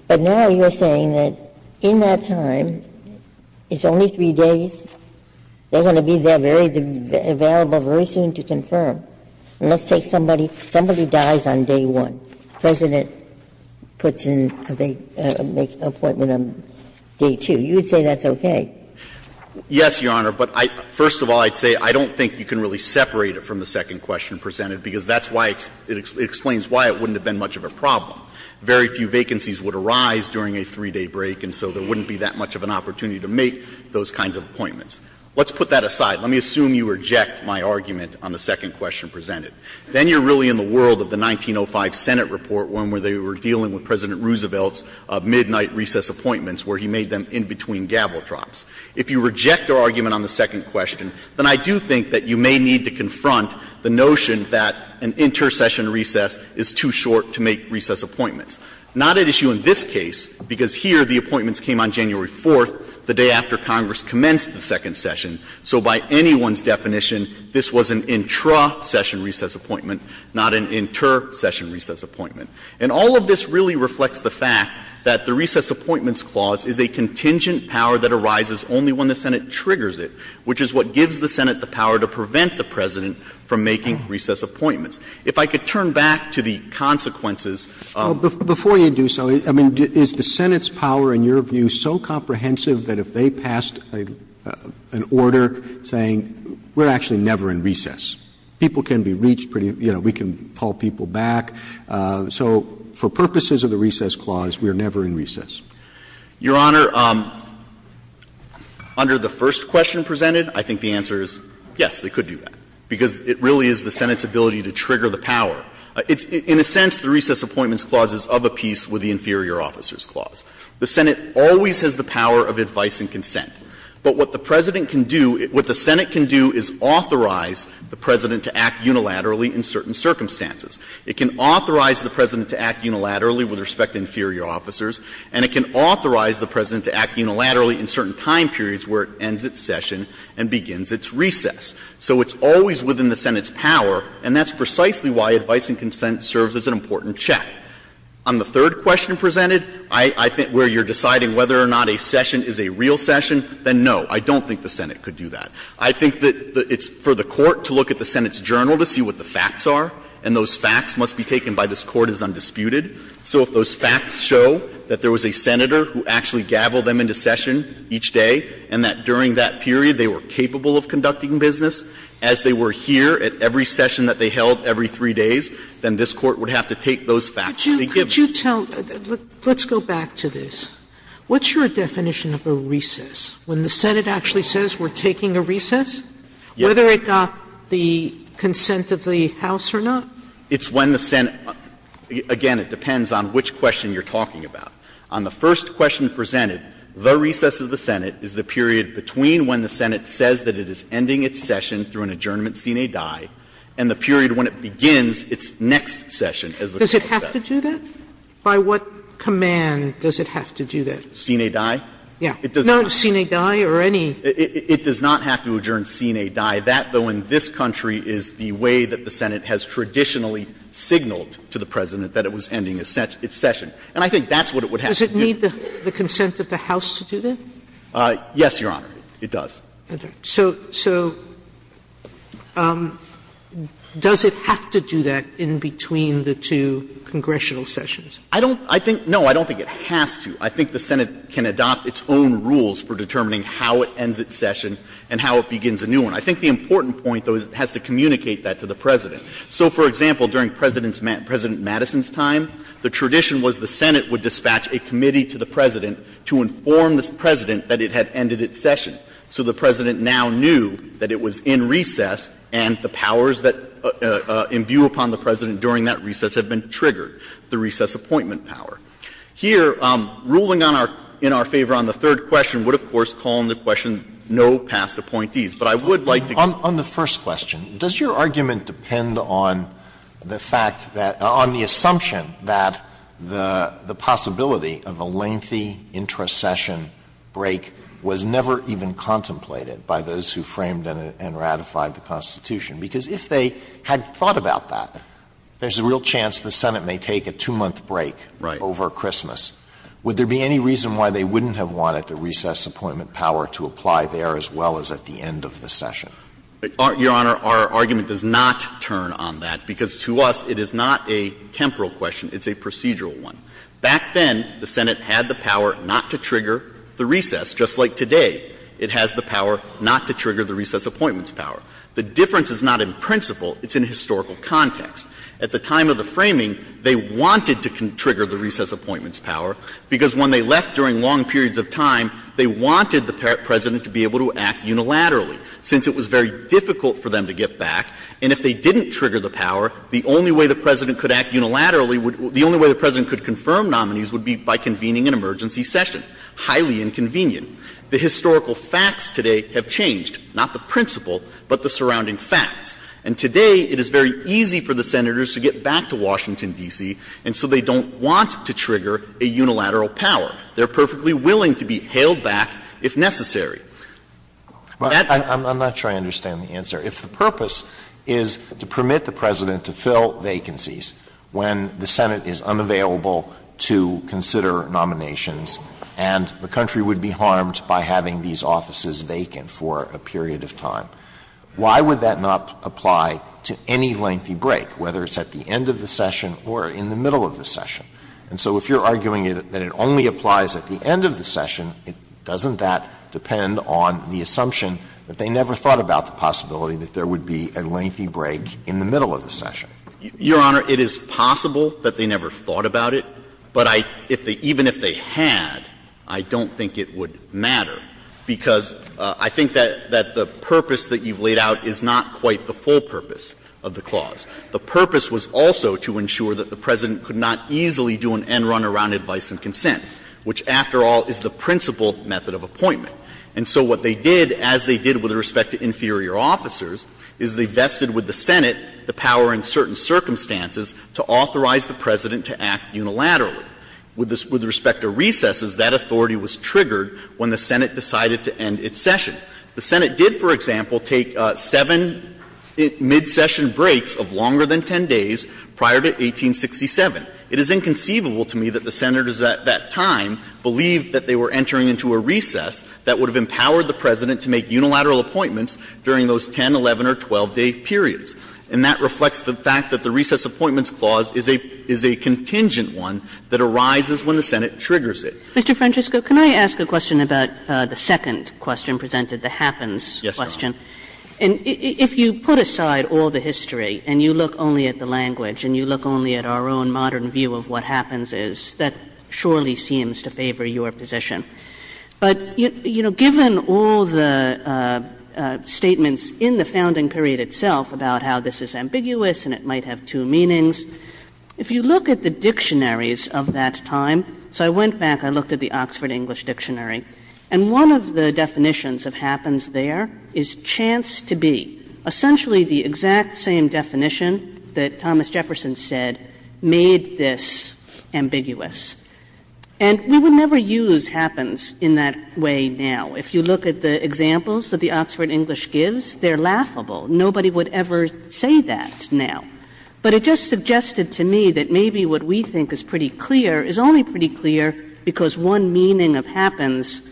But now you're saying that in that time, it's only three days, they're going to be there, available very soon to confirm. Let's say somebody dies on day one. The President makes an appointment on day two. You would say that's okay. Yes, Your Honor, but first of all, I'd say I don't think you can really separate it from the second question presented, because that's why it explains why it wouldn't have been much of a problem. Very few vacancies would arise during a three-day break, and so there wouldn't be that much of an opportunity to make those kinds of appointments. Let's put that aside. Let me assume you reject my argument on the second question presented. Then you're really in the world of the 1905 Senate report, one where they were dealing with President Roosevelt's midnight recess appointments, where he made them in between gavel drops. If you reject our argument on the second question, then I do think that you may need to confront the notion that an intercession recess is too short to make recess appointments. Not an issue in this case, because here the appointments came on January 4th, the day after Congress commenced the second session. So by anyone's definition, this was an intra-session recess appointment, not an inter-session recess appointment. And all of this really reflects the fact that the Recess Appointments Clause is a contingent power that arises only when the Senate triggers it, which is what gives the Senate the power to prevent the President from making recess appointments. If I could turn back to the consequences. Before you do so, I mean, is the Senate's power, in your view, so comprehensive that if they passed an order saying, we're actually never in recess? People can be reached, you know, we can call people back. So for purposes of the Recess Clause, we are never in recess? Your Honor, under the first question presented, I think the answer is yes, they could do that, because it really is the Senate's ability to trigger the power. In a sense, the Recess Appointments Clause is of a piece with the Inferior Officers Clause. The Senate always has the power of advice and consent. But what the President can do, what the Senate can do is authorize the President to act unilaterally in certain circumstances. It can authorize the President to act unilaterally with respect to Inferior Officers, and it can authorize the President to act unilaterally in certain time periods where it ends its session and begins its recess. So it's always within the Senate's power, and that's precisely why advice and consent serves as an important check. On the third question presented, I think where you're deciding whether or not a session is a real session, then no, I don't think the Senate could do that. I think that it's for the Court to look at the Senate's journal to see what the facts are, and those facts must be taken by this Court as undisputed. So if those facts show that there was a Senator who actually gaveled them into session each day, and that during that period they were capable of conducting business, as they were here at every session that they held every three days, then this Court would have to take those facts. Could you tell – let's go back to this. What's your definition of a recess? When the Senate actually says we're taking a recess? Yes. Whether it got the consent of the House or not? It's when the Senate – again, it depends on which question you're talking about. On the first question presented, the recess of the Senate is the period between when the Senate says that it is ending its session through an adjournment sine die, and the period when it begins its next session. Does it have to do that? By what command does it have to do that? Sine die? Yes. No, sine die or any – It does not have to adjourn sine die. That, though, in this country is the way that the Senate has traditionally signaled to the President that it was ending its session. And I think that's what it would have to do. Does it need the consent of the House to do that? Yes, Your Honor. It does. So does it have to do that in between the two congressional sessions? I don't – I think – no, I don't think it has to. I think the Senate can adopt its own rules for determining how it ends its session and how it begins a new one. I think the important point, though, is it has to communicate that to the President. So, for example, during President's – President Madison's time, the tradition was the Senate would dispatch a committee to the President to inform the President that it had ended its session. So the President now knew that it was in recess and the powers that imbue upon the President during that recess had been triggered, the recess appointment power. Here, ruling in our favor on the third question would, of course, call into question no past appointees. But I would like to – On the first question, does your argument depend on the fact that – on the assumption that the possibility of a lengthy intra-session break was never even contemplated by those who framed and ratified the Constitution? Because if they had thought about that, there's a real chance the Senate may take a two-month break over Christmas. Would there be any reason why they wouldn't have wanted the recess appointment power to apply there as well as at the end of the session? Your Honor, our argument does not turn on that, because to us it is not a temporal question, it's a procedural one. Back then, the Senate had the power not to trigger the recess, just like today. It has the power not to trigger the recess appointments power. The difference is not in principle, it's in historical context. At the time of the framing, they wanted to trigger the recess appointments power, because when they left during long periods of time, they wanted the President to be able to act unilaterally, since it was very difficult for them to get back. And if they didn't trigger the power, the only way the President could act unilaterally the only way the President could confirm nominees would be by convening an emergency session. Highly inconvenient. The historical facts today have changed, not the principle, but the surrounding facts. And today, it is very easy for the Senators to get back to Washington, D.C., and so they don't want to trigger a unilateral power. They're perfectly willing to be hailed back if necessary. I'm not sure I understand the answer. If the purpose is to permit the President to fill vacancies when the Senate is unavailable to consider nominations, and the country would be harmed by having these offices vacant for a period of time, why would that not apply to any lengthy break, whether it's at the end of the session or in the middle of the session? And so if you're arguing that it only applies at the end of the session, doesn't that possibility that there would be a lengthy break in the middle of the session? Your Honor, it is possible that they never thought about it, but even if they had, I don't think it would matter, because I think that the purpose that you've laid out is not quite the full purpose of the clause. The purpose was also to ensure that the President could not easily do an end-run around advice and consent, which, after all, is the principle method of appointment. And so what they did, as they did with respect to inferior officers, is they vested with the Senate the power in certain circumstances to authorize the President to act unilaterally. With respect to recesses, that authority was triggered when the Senate decided to end its session. The Senate did, for example, take seven mid-session breaks of longer than 10 days prior to 1867. It is inconceivable to me that the Senators at that time believed that they were entering into a recess that would have empowered the President to make unilateral appointments during those 10-, 11-, or 12-day periods. And that reflects the fact that the recess appointments clause is a contingent one that arises when the Senate triggers it. Mr. Francesco, can I ask a question about the second question presented, the happens question? Yes, Your Honor. And if you put aside all the history, and you look only at the language, and you look only at our own modern view of what happens is, that surely seems to favor your position. But given all the statements in the founding period itself about how this is ambiguous and it might have two meanings, if you look at the dictionaries of that time, so I went back, I looked at the Oxford English Dictionary, and one of the definitions of happens there is chance to be. Essentially the exact same definition that Thomas Jefferson said made this ambiguous. And we would never use happens in that way now. If you look at the examples that the Oxford English gives, they're laughable. Nobody would ever say that now. But it just suggested to me that maybe what we think is pretty clear is only pretty clear because one meaning of happens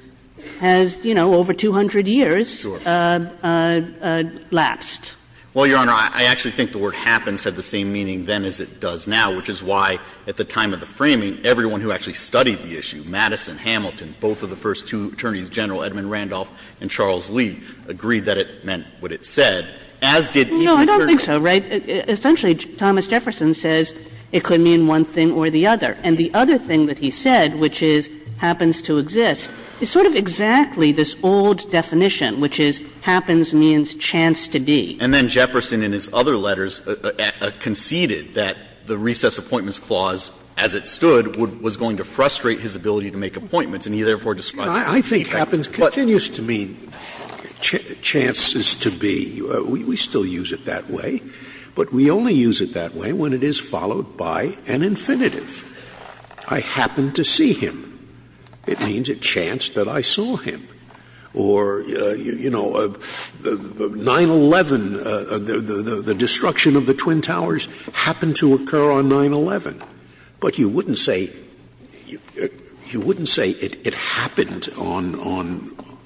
has, you know, over 200 years last. Well, Your Honor, I actually think the word happens had the same meaning then as it does now, which is why at the time of the framing, everyone who actually studied the issue, Madison, Hamilton, both of the first two attorneys general, Edmund Randolph and Charles Lee, agreed that it meant what it said. No, I don't think so, right? Essentially Thomas Jefferson says it could mean one thing or the other. And the other thing that he said, which is happens to exist, is sort of exactly this old definition, which is happens means chance to be. And then Jefferson in his other letters conceded that the Recess Appointments Clause, as it stood, was going to frustrate his ability to make appointments. I think happens continues to mean chances to be. We still use it that way, but we only use it that way when it is followed by an infinitive. I happened to see him. It means a chance that I saw him. Or, you know, 9-11, the destruction of the Twin Towers happened to occur on 9-11. But you wouldn't say it happened on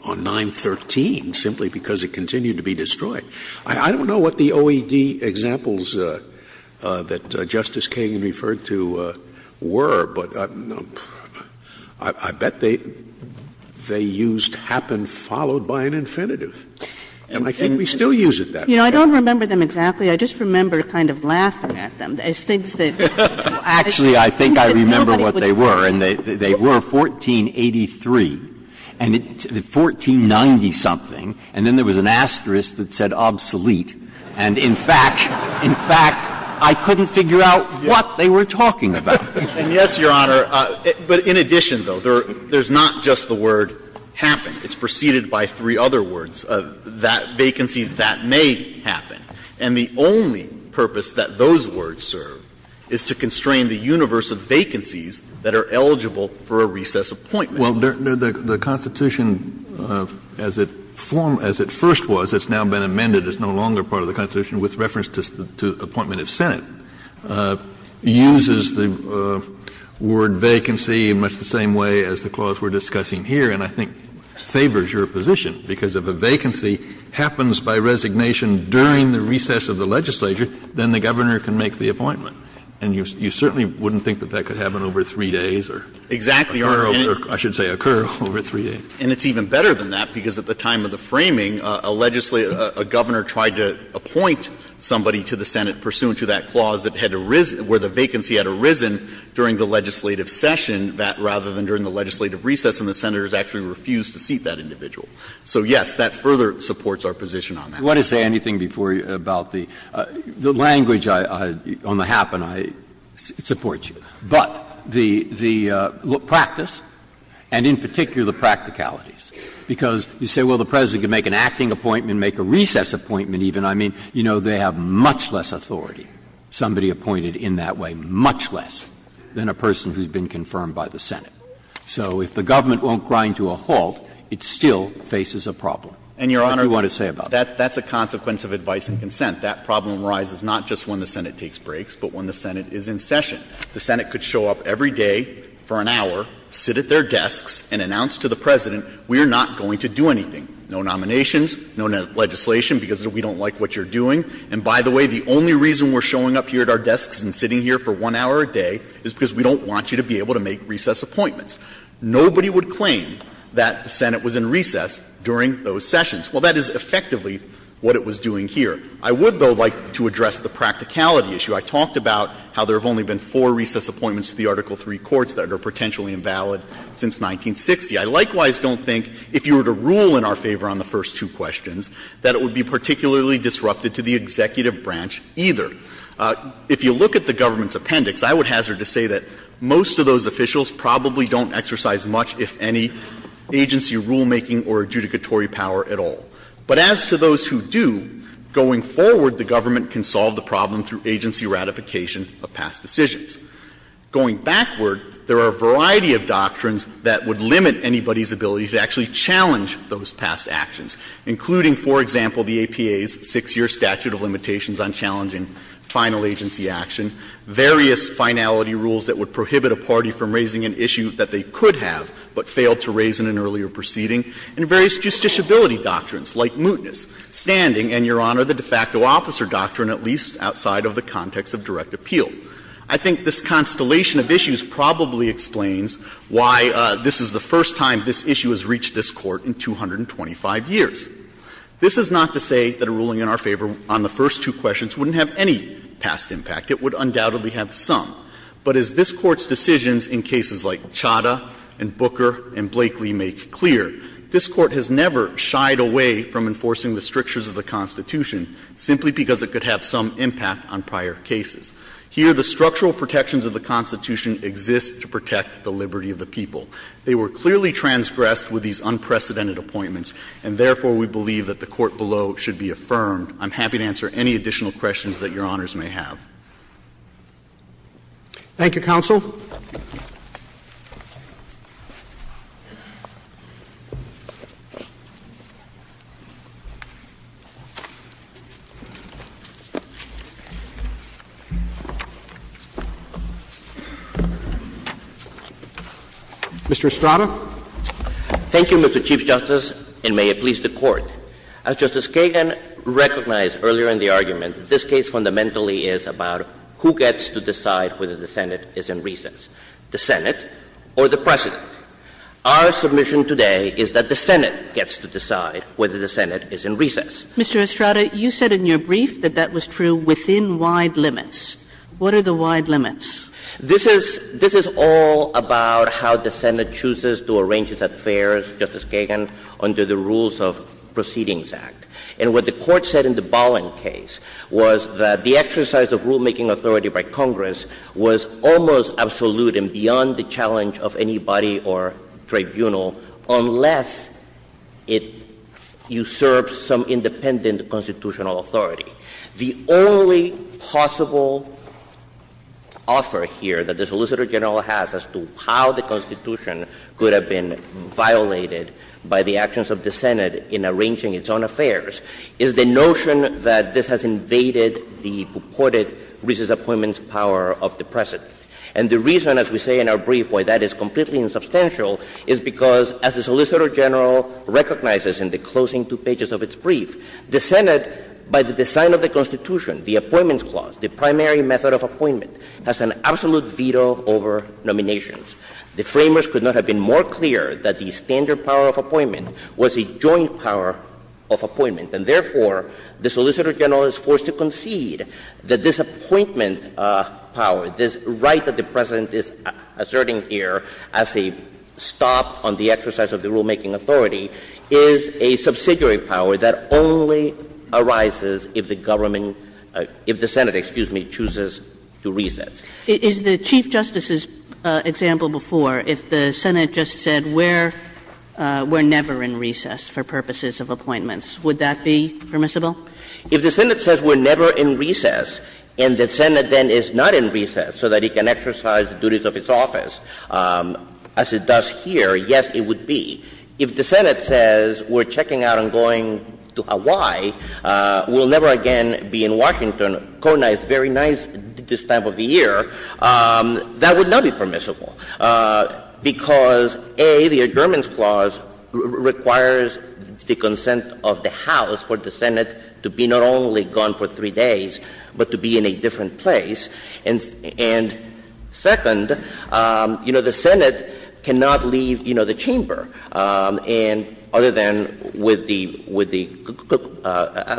9-13 simply because it continued to be destroyed. I don't know what the OED examples that Justice King referred to were, but I bet they used happened followed by an infinitive. And I think we still use it that way. You know, I don't remember them exactly. I just remember kind of laughing at them. Actually, I think I remember what they were. And they were 1483. And it's 1490-something. And then there was an asterisk that said obsolete. And, in fact, I couldn't figure out what they were talking about. And, yes, Your Honor, but in addition, though, there's not just the word happened. It's preceded by three other words. That vacancy, that may happen. And the only purpose that those words serve is to constrain the universe of vacancies that are eligible for a recess appointment. Well, the Constitution, as it first was, it's now been amended. It's no longer part of the Constitution with reference to appointment at Senate. It uses the word vacancy in much the same way as the clause we're discussing here, and I think favors your position because if a vacancy happens by resignation during the recess of the legislature, then the governor can make the appointment. And you certainly wouldn't think that that could happen over three days or occur over three days. And it's even better than that because at the time of the framing, a governor tried to appoint somebody to the Senate pursuant to that clause where the vacancy had arisen during the legislative session rather than during the legislative recess. And the senators actually refused to seat that individual. So, yes, that further supports our position on that. Let us say anything before you about the language on the happen. I support you. But the practice and in particular the practicalities because you say, well, the president can make an acting appointment, make a recess appointment even. I mean, you know, they have much less authority, somebody appointed in that way, much less than a person who's been confirmed by the Senate. So if the government won't grind to a halt, it still faces a problem. And, Your Honor, that's a consequence of advice and consent. That problem arises not just when the Senate takes breaks but when the Senate is in session. The Senate could show up every day for an hour, sit at their desks, and announce to the president, we are not going to do anything, no nominations, no legislation because we don't like what you're doing. And, by the way, the only reason we're showing up here at our desks and sitting here for one hour a day is because we don't want you to be able to make recess appointments. Nobody would claim that the Senate was in recess during those sessions. Well, that is effectively what it was doing here. I would, though, like to address the practicality issue. I talked about how there have only been four recess appointments to the Article III courts that are potentially invalid since 1960. I likewise don't think if you were to rule in our favor on the first two questions that it would be particularly disrupted to the executive branch either. If you look at the government's appendix, I would hazard to say that most of those officials probably don't exercise much, if any, agency rulemaking or adjudicatory power at all. But as to those who do, going forward, the government can solve the problem through agency ratification of past decisions. Going backward, there are a variety of doctrines that would limit anybody's ability to actually challenge those past actions, including, for example, the APA's six-year statute of limitations on challenging final agency action, various finality rules that would prohibit a party from raising an issue that they could have but failed to raise in an earlier proceeding, and various justiciability doctrines like mootness, standing, and, Your Honor, the de facto officer doctrine, at least outside of the context of direct appeal. I think this constellation of issues probably explains why this is the first time this issue has reached this Court in 225 years. This is not to say that a ruling in our favor on the first two questions wouldn't have any past impact. It would undoubtedly have some. But as this Court's decisions in cases like Chadha and Booker and Blakeley make clear, this Court has never shied away from enforcing the strictures of the Constitution simply because it could have some impact on prior cases. Here, the structural protections of the Constitution exist to protect the liberty of the people. They were clearly transgressed with these unprecedented appointments, and therefore, we believe that the Court below should be affirmed. I'm happy to answer any additional questions that Your Honors may have. Thank you, Counsel. Mr. Estrada. Thank you, Mr. Chief Justice, and may it please the Court. As Justice Kagan recognized earlier in the argument, this case fundamentally is about who gets to decide whether the Senate is in recess, the Senate or the President. Our submission today is that the Senate gets to decide whether the Senate is in recess. Mr. Estrada, you said in your brief that that was true within wide limits. What are the wide limits? This is all about how the Senate chooses to arrange its affairs, Justice Kagan, under the rules of Proceedings Act. And what the Court said in the Bolling case was that the exercise of rulemaking authority by Congress was almost absolute and beyond the challenge of anybody or tribunal unless it usurps some independent constitutional authority. The only possible offer here that the Solicitor General has as to how the Constitution could have been violated by the actions of the Senate in arranging its own affairs is the notion that this has invaded the purported recess appointments power of the President. And the reason, as we say in our brief, why that is completely insubstantial is because, as the Solicitor General recognizes in the closing two pages of its brief, the Senate, by the design of the Constitution, the Appointments Clause, the primary method of appointment, has an absolute veto over nominations. The framers could not have been more clear that the standard power of appointment was a joint power of appointment. And therefore, the Solicitor General is forced to concede that this appointment power, this right that the President is asserting here as a stop on the exercise of the rulemaking authority, is a subsidiary power that only arises if the Senate chooses to recess. Is the Chief Justice's example before, if the Senate just said we're never in recess for purposes of appointments, would that be permissible? If the Senate says we're never in recess and the Senate then is not in recess so that it can exercise the duties of its office as it does here, yes, it would be. If the Senate says we're checking out and going to Hawaii, we'll never again be in Washington, coordinate very nice this time of the year, that would not be permissible because, A, the Adjournments Clause requires the consent of the House for the Senate to be not only gone for three days but to be in a different place. And second, the Senate cannot leave the chamber other than with the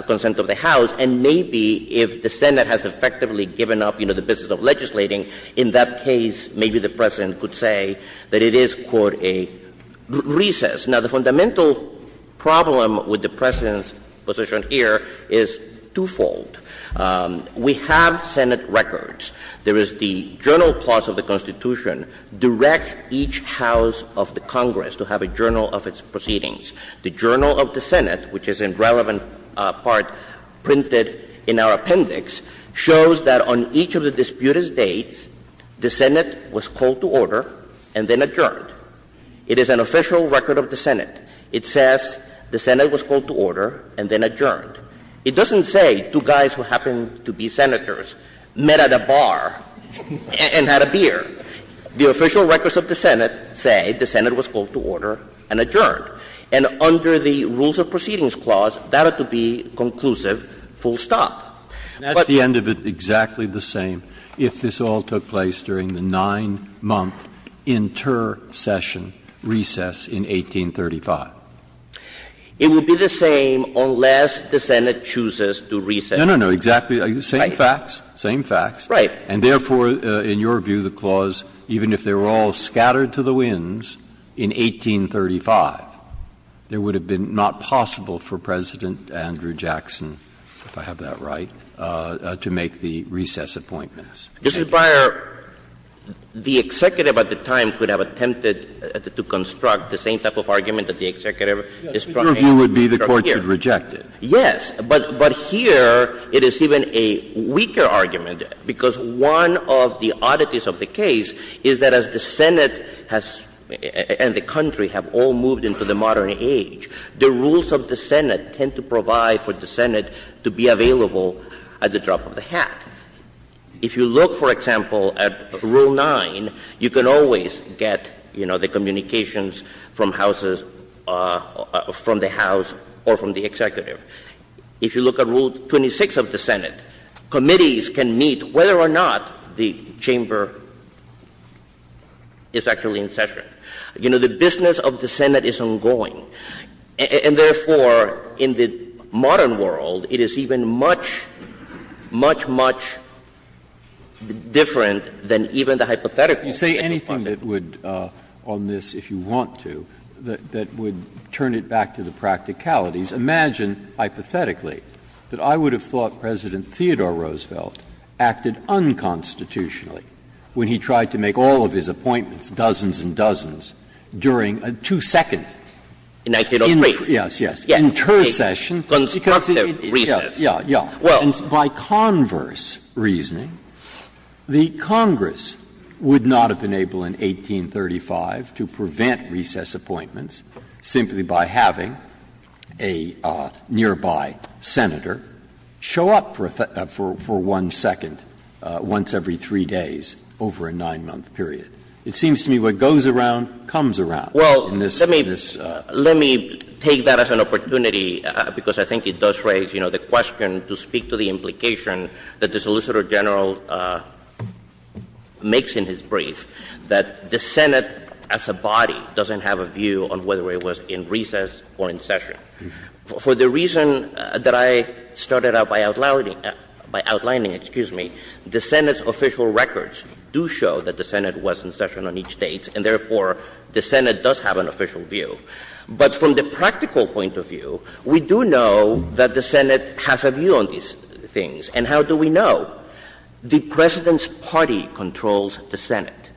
consent of the House. And maybe if the Senate has effectively given up the business of legislating, in that case maybe the President could say that it is, quote, a recess. Now, the fundamental problem with the President's position here is twofold. We have Senate records. There is the Journal Clause of the Constitution directs each House of the Congress to have a journal of its proceedings. The Journal of the Senate, which is in relevant part printed in our appendix, shows that on each of the disputed dates, the Senate was called to order and then adjourned. It is an official record of the Senate. It says the Senate was called to order and then adjourned. It doesn't say two guys who happen to be Senators met at a bar and had a beer. The official records of the Senate say the Senate was called to order and adjourned. And under the Rules of Proceedings Clause, that ought to be conclusive, full stop. But the end of it is exactly the same if this all took place during the nine-month intercession recess in 1835. It would be the same unless the Senate chooses to recess. No, no, no, exactly. Same facts, same facts. Right. And therefore, in your view, the clause, even if they were all scattered to the winds in 1835, it would have been not possible for President Andrew Jackson, if I have that right, to make the recess appointments. This is prior. The executive at the time could have attempted to construct the same type of argument that the executive is trying to construct here. Your view would be the Court should reject it. Yes. But here, it is even a weaker argument because one of the oddities of the case is that as the Senate and the country have all moved into the modern age, the rules of the Senate tend to provide for the Senate to be available at the drop of a hat. If you look, for example, at Rule 9, you can always get, you know, the communications from the House or from the executive. If you look at Rule 26 of the Senate, committees can meet whether or not the chamber is actually in session. You know, the business of the Senate is ongoing. And therefore, in the modern world, it is even much, much, much different than even the hypothetical. You say anything that would, on this, if you want to, that would turn it back to the practicalities. Imagine, hypothetically, that I would have thought President Theodore Roosevelt acted unconstitutionally when he tried to make all of his appointments, dozens and dozens, during a two-second intercession. In 1903. Yes, yes. Intercession. Constructive recess. Yes, yes. And by converse reasoning, the Congress would not have been able in 1835 to prevent recess appointments simply by having a nearby senator show up for one second once every three days over a nine-month period. It seems to me what goes around comes around. Well, let me take that as an opportunity, because I think it does raise, you know, the question to speak to the implication that the Solicitor General makes in his brief, that the Senate as a body doesn't have a view on whether it was in recess or in session. For the reason that I started out by outlining, the Senate's official records do show that the Senate was in session on each date, and therefore, the Senate does have an official view. But from the practical point of view, we do know that the Senate has a view on these things. And how do we know? The President's party controls the Senate.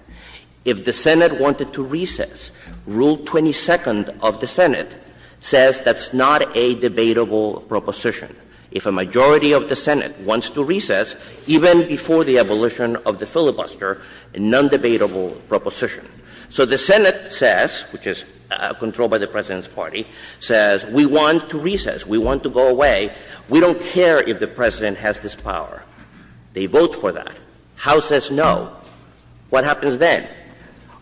If the Senate wanted to recess, Rule 22nd of the Senate says that's not a debatable proposition. If a majority of the Senate wants to recess, even before the abolition of the filibuster, a non-debatable proposition. So the Senate says, which is controlled by the President's party, says we want to recess. We want to go away. We don't care if the President has this power. They vote for that. House says no. What happens then?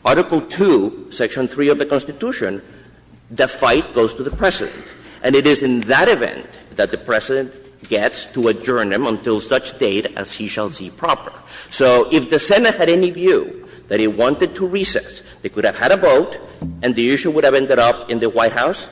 Article 2, Section 3 of the Constitution, the fight goes to the President. And it is in that event that the President gets to adjourn him until such date as he shall see proper. So if the Senate had any view that he wanted to recess, they could have had a vote, and the issue would have ended up in the White House,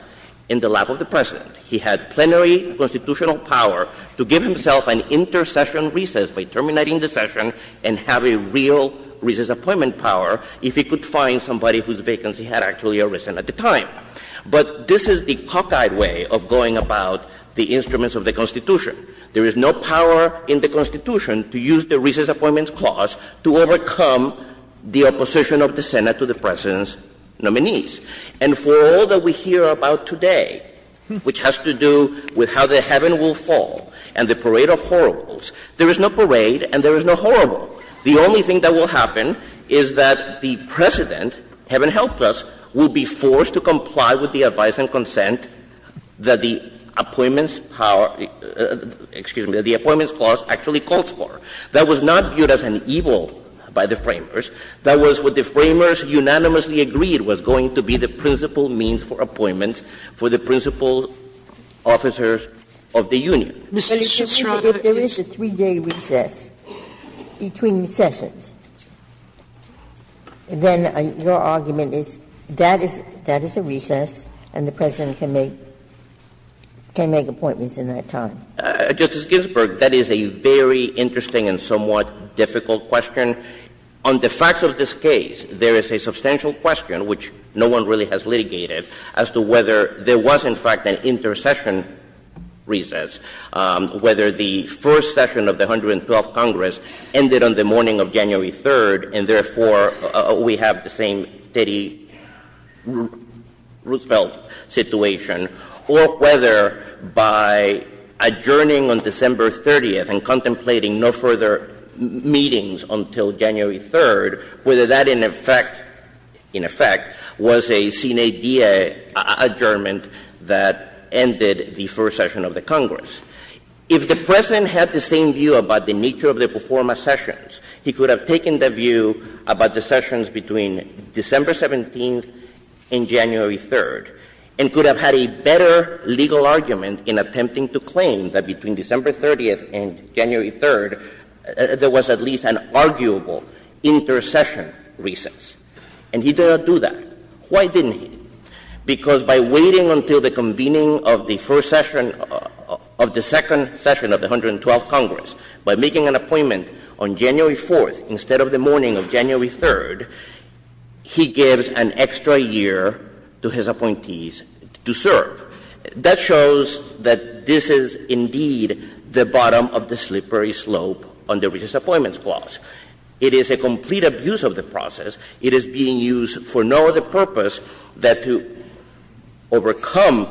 in the lap of the President. He had plenary constitutional power to give himself an intercession recess by terminating the session and have a real recess appointment power if he could find somebody whose vacancy had actually arisen at the time. But this is the cockeyed way of going about the instruments of the Constitution. There is no power in the Constitution to use the recess appointment clause to overcome the opposition of the Senate to the President's nominees. And for all that we hear about today, which has to do with how the heaven will fall and the parade of horribles, there is no parade and there is no horrible. The only thing that will happen is that the President, heaven help us, will be forced to comply with the advice and consent that the appointments power, excuse me, that the appointments clause actually calls for. That was not viewed as an evil by the framers. That was what the framers unanimously agreed was going to be the principal means for appointments for the principal officers of the union. If there is a three-day recess between the sessions, then your argument is that is a recess and the President can make appointments in that time. Justice Ginsburg, that is a very interesting and somewhat difficult question. On the facts of this case, there is a substantial question, which no one really has litigated, as to whether there was in fact an intercession recess, whether the first session of the 112th Congress ended on the morning of January 3rd, and therefore we have the same Teddy Roosevelt situation, or whether by adjourning on December 30th and contemplating no further meetings until January 3rd, whether that in effect was a CNADA adjournment that ended the first session of the Congress. If the President had the same view about the nature of the performance sessions, he could have taken the view about the sessions between December 17th and January 3rd, and could have had a better legal argument in attempting to claim that between December 30th and January 3rd, there was at least an arguable intercession recess. And he did not do that. Why didn't he? Because by waiting until the convening of the first session of the second session of the 112th Congress, by making an appointment on January 4th instead of the morning of January 3rd, he gives an extra year to his appointees to serve. That shows that this is indeed the bottom of the slippery slope on the recent appointments clause. It is a complete abuse of the process. It is being used for no other purpose than to overcome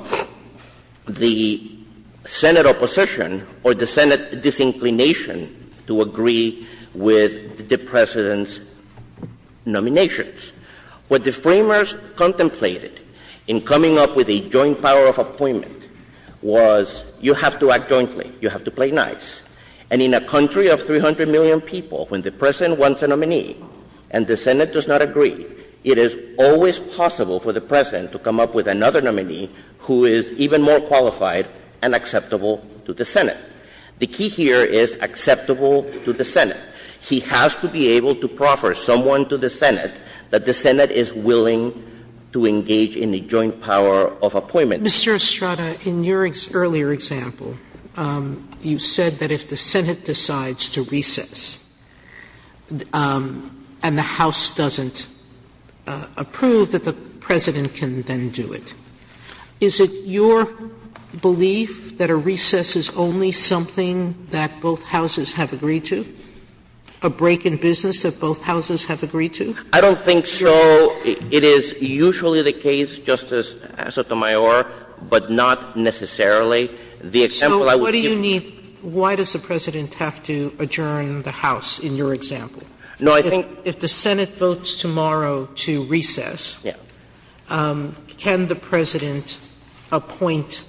the Senate opposition or the Senate disinclination to agree with the President's nominations. What the framers contemplated in coming up with a joint power of appointment was you have to act jointly. You have to play nice. And in a country of 300 million people, when the President wants a nominee and the Senate does not agree, it is always possible for the President to come up with another nominee who is even more qualified and acceptable to the Senate. The key here is acceptable to the Senate. He has to be able to proffer someone to the Senate that the Senate is willing to engage in a joint power of appointment. Mr. Estrada, in your earlier example, you said that if the Senate decides to recess and the House doesn't approve, that the President can then do it. Is it your belief that a recess is only something that both Houses have agreed to? A break in business that both Houses have agreed to? I don't think so. It is usually the case, Justice Sotomayor, but not necessarily. So what do you mean, why does the President have to adjourn the House in your example? If the Senate votes tomorrow to recess, can the President appoint,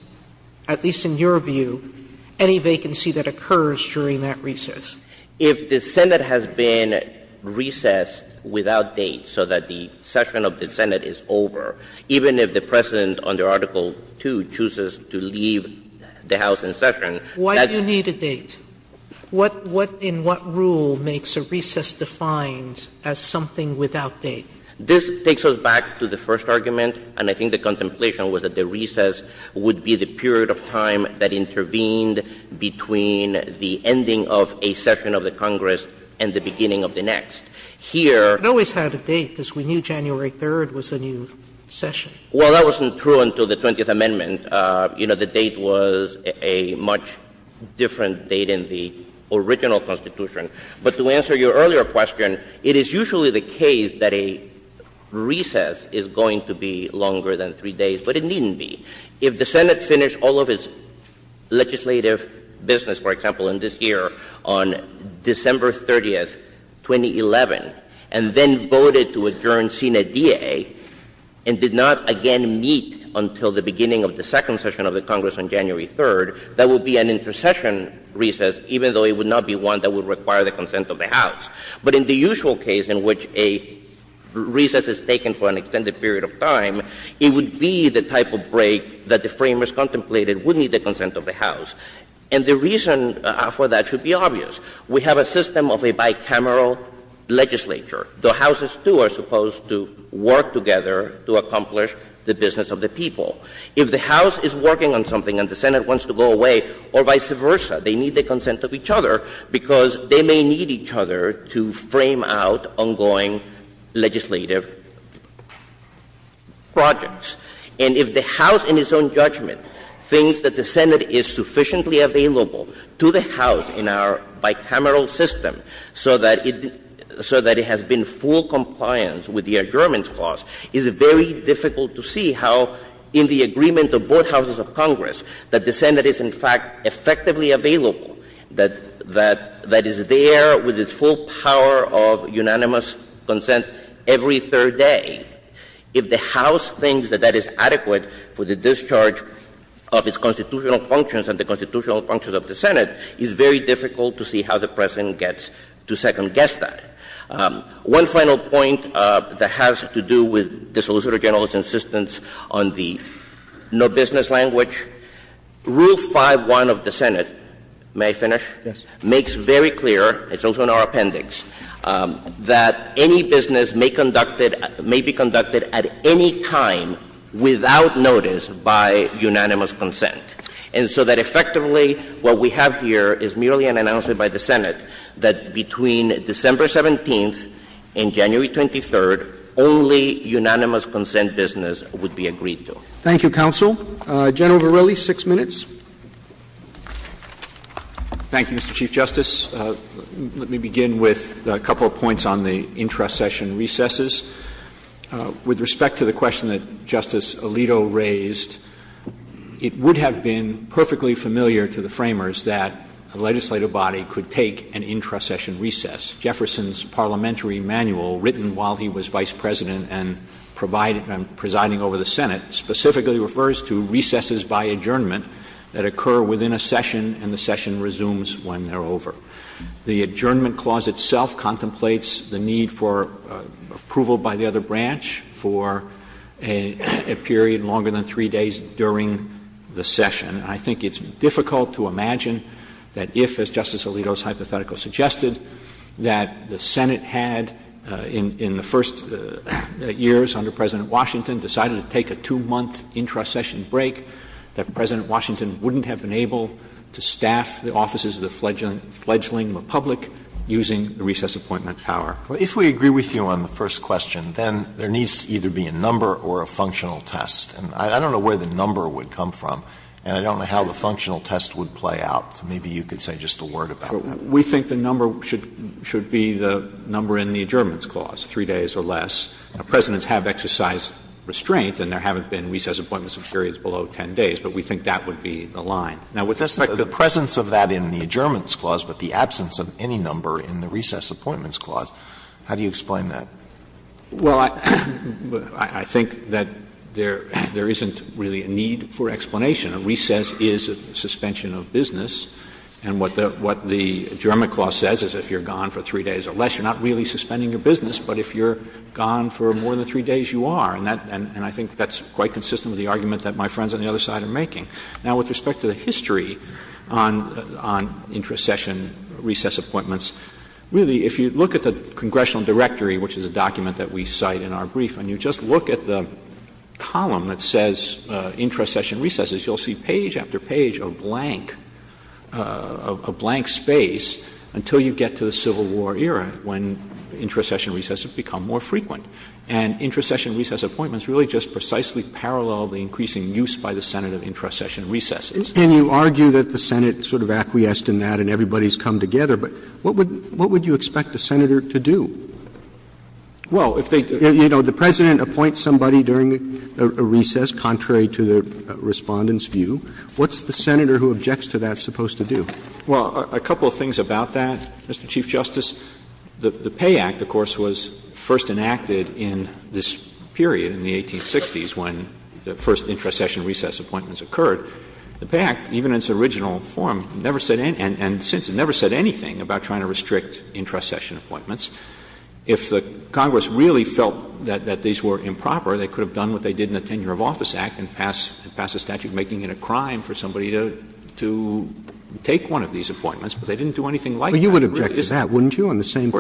at least in your view, any vacancy that occurs during that recess? If the Senate has been recessed without date, so that the session of the Senate is over, even if the President, under Article 2, chooses to leave the House in session... Why do you need a date? In what rule makes a recess defined as something without date? This takes us back to the first argument, and I think the contemplation was that the recess would be the period of time that intervened between the ending of a session of the Congress and the beginning of the next. Here... It always had a date, because we knew January 3rd was a new session. Well, that wasn't true until the 20th Amendment. The date was a much different date in the original Constitution. But to answer your earlier question, it is usually the case that a recess is going to be longer than three days, but it needn't be. If the Senate finished all of its legislative business, for example, in this year, on December 30th, 2011, and then voted to adjourn Senate D.A., and did not again meet until the beginning of the second session of the Congress on January 3rd, that would be an intercession recess, even though it would not be one that would require the consent of the House. But in the usual case in which a recess is taken for an extended period of time, it would be the type of break that the framers contemplated would need the consent of the House. And the reason for that should be obvious. We have a system of a bicameral legislature. The Houses, too, are supposed to work together to accomplish the business of the people. If the House is working on something and the Senate wants to go away, or vice versa, they need the consent of each other because they may need each other to frame out ongoing legislative projects. And if the House, in its own judgment, thinks that the Senate is sufficiently available to the House in our bicameral system so that it has been full compliant with the adjournment clause, it is very difficult to see how in the agreement of both Houses of Congress that the Senate is, in fact, effectively available, that is there with its full power of unanimous consent every third day. If the House thinks that that is adequate for the discharge of its constitutional functions and the constitutional functions of the Senate, it is very difficult to see how the President gets to second-guess that. One final point that has to do with the Solicitor General's insistence on the no-business language, Rule 5.1 of the Senate makes very clear, it's also in our appendix, that any business may be conducted at any time without notice by unanimous consent. And so that effectively what we have here is merely an announcement by the Senate that between December 17th and January 23rd, only unanimous consent business would be agreed to. Thank you, Counsel. General Verrilli, six minutes. Thank you, Mr. Chief Justice. Let me begin with a couple of points on the intra-session recesses. With respect to the question that Justice Alito raised, it would have been perfectly familiar to the framers that a legislative body could take an intra-session recess. Jefferson's parliamentary manual, written while he was Vice President and presiding over the Senate, specifically refers to recesses by adjournment that occur within a session and the session resumes when they're over. The adjournment clause itself contemplates the need for approval by the other branch for a period longer than three days during the session. I think it's difficult to imagine that if, as Justice Alito's hypothetical suggested, that the Senate had in the first years under President Washington decided to take a two-month intra-session break, that President Washington wouldn't have been able to staff the offices of the fledgling republic using the recess appointment tower. If we agree with you on the first question, then there needs to either be a number or a functional test. I don't know where the number would come from, and I don't know how the functional test would play out. Maybe you could say just a word about it. We think the number should be the number in the adjournment clause, three days or less. Presidents have exercised restraint, and there haven't been recess appointments of periods below 10 days, but we think that would be the line. Now, with respect to the presence of that in the adjournment clause, but the absence of any number in the recess appointments clause, how do you explain that? Well, I think that there isn't really a need for explanation. A recess is a suspension of business, and what the adjournment clause says is if you're gone for three days or less, you're not really suspending a business, but if you're gone for more than three days, you are. And I think that's quite consistent with the argument that my friends on the other side are making. Now, with respect to the history on intra-session recess appointments, really, if you look at the congressional directory, which is a document that we cite in our brief, and you just look at the column that says intra-session recesses, you'll see page after page of blank space until you get to the Civil War era, when intra-session recesses become more frequent. And intra-session recess appointments really just precisely parallel the increasing use by the Senate of intra-session recesses. And you argue that the Senate sort of acquiesced in that and everybody's come together, but what would you expect the Senator to do? Well, if they say, you know, the President appoints somebody during a recess contrary to the Respondent's view, what's the Senator who objects to that supposed to do? Well, a couple of things about that, Mr. Chief Justice. The Pay Act, of course, was first enacted in this period, in the 1860s, when the first intra-session recess appointments occurred. The Pay Act, even in its original form, never said anything about trying to restrict intra-session appointments. If Congress really felt that these were improper, they could have done what they did in the Tenure of Office Act and passed a statute making it a crime for somebody to take one of these appointments, but they didn't do anything like that. But you would object to that, wouldn't you, on the same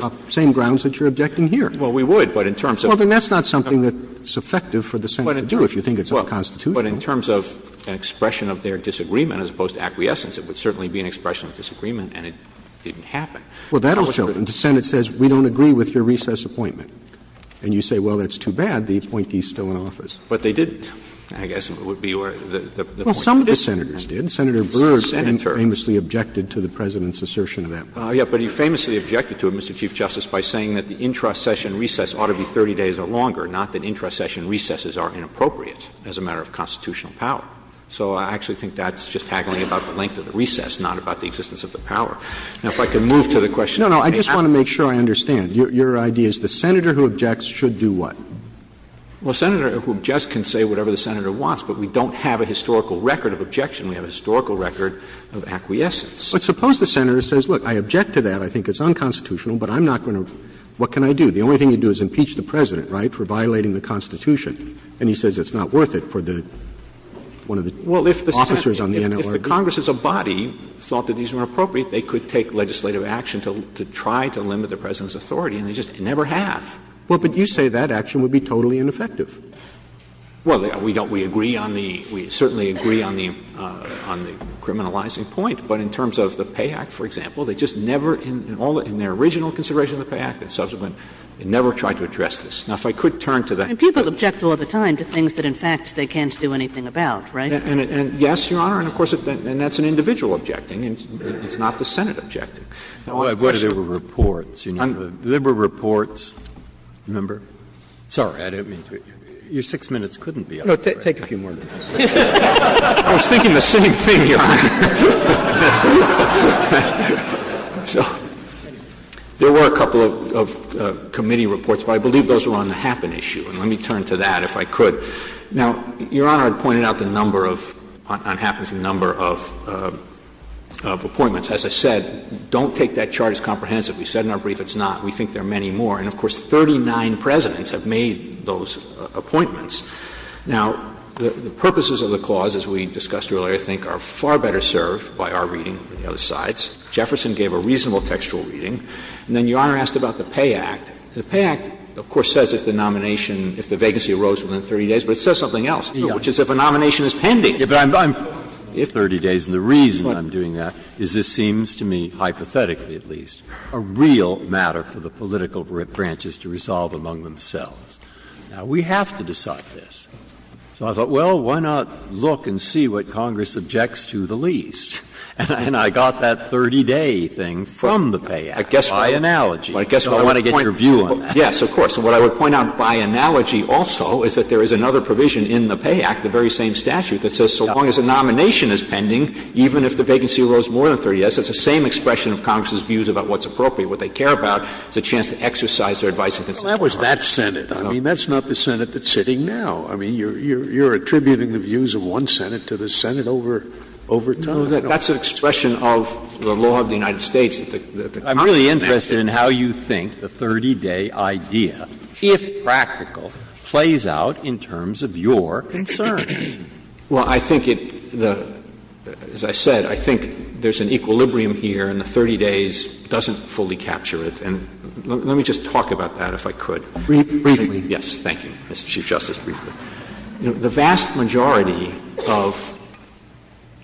grounds that you're objecting here? Well, we would, but in terms of — Well, then that's not something that's effective for the Senate to do if you think it's unconstitutional. But in terms of an expression of their disagreement as opposed to acquiescence, it would certainly be an expression of disagreement, and it didn't happen. Well, that'll show. The Senate says, we don't agree with your recess appointment. And you say, well, that's too bad. The appointees still in office. But they didn't, I guess, would be the point. Well, some of the Senators did. Senator Burr famously objected to the President's assertion at that point. Yeah, but he famously objected to it, Mr. Chief Justice, by saying that the intra-session recess ought to be 30 days or longer, not that intra-session recesses are inappropriate as a matter of constitutional power. So I actually think that's just haggling about the length of the recess, not about the existence of the power. Now, if I can move to the question — No, no, I just want to make sure I understand. Your idea is the Senator who objects should do what? Well, a Senator who objects can say whatever the Senator wants, but we don't have a historical record of objection. We have a historical record of acquiescence. But suppose the Senator says, look, I object to that. I think it's unconstitutional, but I'm not going to — what can I do? The only thing to do is impeach the President, right, for violating the Constitution. And he says it's not worth it for the — one of the officers on the NLRB. The Congress as a body thought that these were inappropriate. They could take legislative action to try to limit the President's authority, and they just never have. Well, but you say that action would be totally ineffective. Well, we agree on the — we certainly agree on the criminalizing point. But in terms of the Pay Act, for example, they just never — in their original consideration of the Pay Act, they never tried to address this. Now, if I could turn to the — And people object all the time to things that, in fact, they can't do anything about, right? And yes, Your Honor, and of course — and that's an individual objecting, and it's not the Senate objecting. But there were reports, you know. There were reports — remember? Sorry, I didn't mean to — your six minutes couldn't be up. No, take a few more minutes. I was thinking the same thing, Your Honor. So there were a couple of committee reports, but I believe those were on the Happen issue. And let me turn to that, if I could. Now, Your Honor pointed out the number of — on Happen's number of appointments. As I said, don't take that chart as comprehensive. We said in our brief it's not. We think there are many more. And, of course, 39 Presidents have made those appointments. Now, the purposes of the clause, as we discussed earlier, I think are far better served by our reading than the other side's. Jefferson gave a reasonable textual reading. And then Your Honor asked about the Pay Act. The Pay Act, of course, says if the nomination — if the vacancy arose within 30 days, but it says something else, which is if a nomination is pending. But I'm — if 30 days, and the reason I'm doing that is this seems to me, hypothetically at least, a real matter for the political branches to resolve among themselves. Now, we have to decide this. So I thought, well, why not look and see what Congress objects to the least? And I got that 30-day thing from the Pay Act by analogy. So I want to get your view on that. Yes, of course. And what I would point out by analogy also is that there is another provision in the Pay Act, the very same statute, that says so long as a nomination is pending, even if the vacancy arose more than 30 days, it's the same expression of Congress's views about what's appropriate. What they care about is a chance to exercise their advice within 30 days. Well, that was that Senate. I mean, that's not the Senate that's sitting now. I mean, you're attributing the views of one Senate to the Senate over time. No, that's an expression of the law of the United States. I'm really interested in how you think the 30-day idea, if practical, plays out in terms of your concerns. Well, I think it — as I said, I think there's an equilibrium here and the 30 days doesn't fully capture it. And let me just talk about that, if I could. Briefly. Yes, thank you, Mr. Chief Justice. Briefly. The vast majority of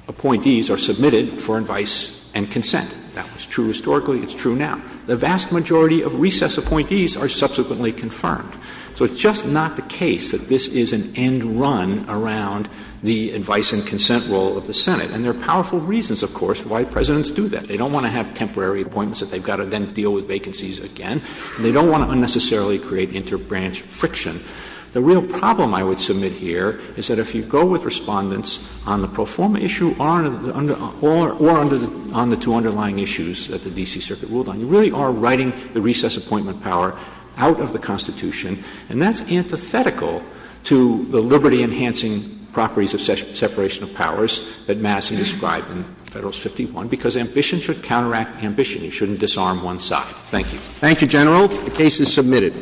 appointees are submitted for advice and consent. That was true historically. It's true now. The vast majority of recess appointees are subsequently confirmed. So it's just not the case that this is an end run around the advice and consent role of the Senate. And there are powerful reasons, of course, why Presidents do that. They don't want to have temporary appointments that they've got to then deal with vacancies again. They don't want to unnecessarily create interbranch friction. The real problem I would submit here is that if you go with Respondents on the two underlying issues that the D.C. Circuit ruled on, you really are writing the recess appointment power out of the Constitution. And that's antithetical to the liberty-enhancing properties of separation of powers that Madison described in Federalist 51, because ambitions are counter-ambition. You shouldn't disarm one side. Thank you. Thank you, General. The case is submitted.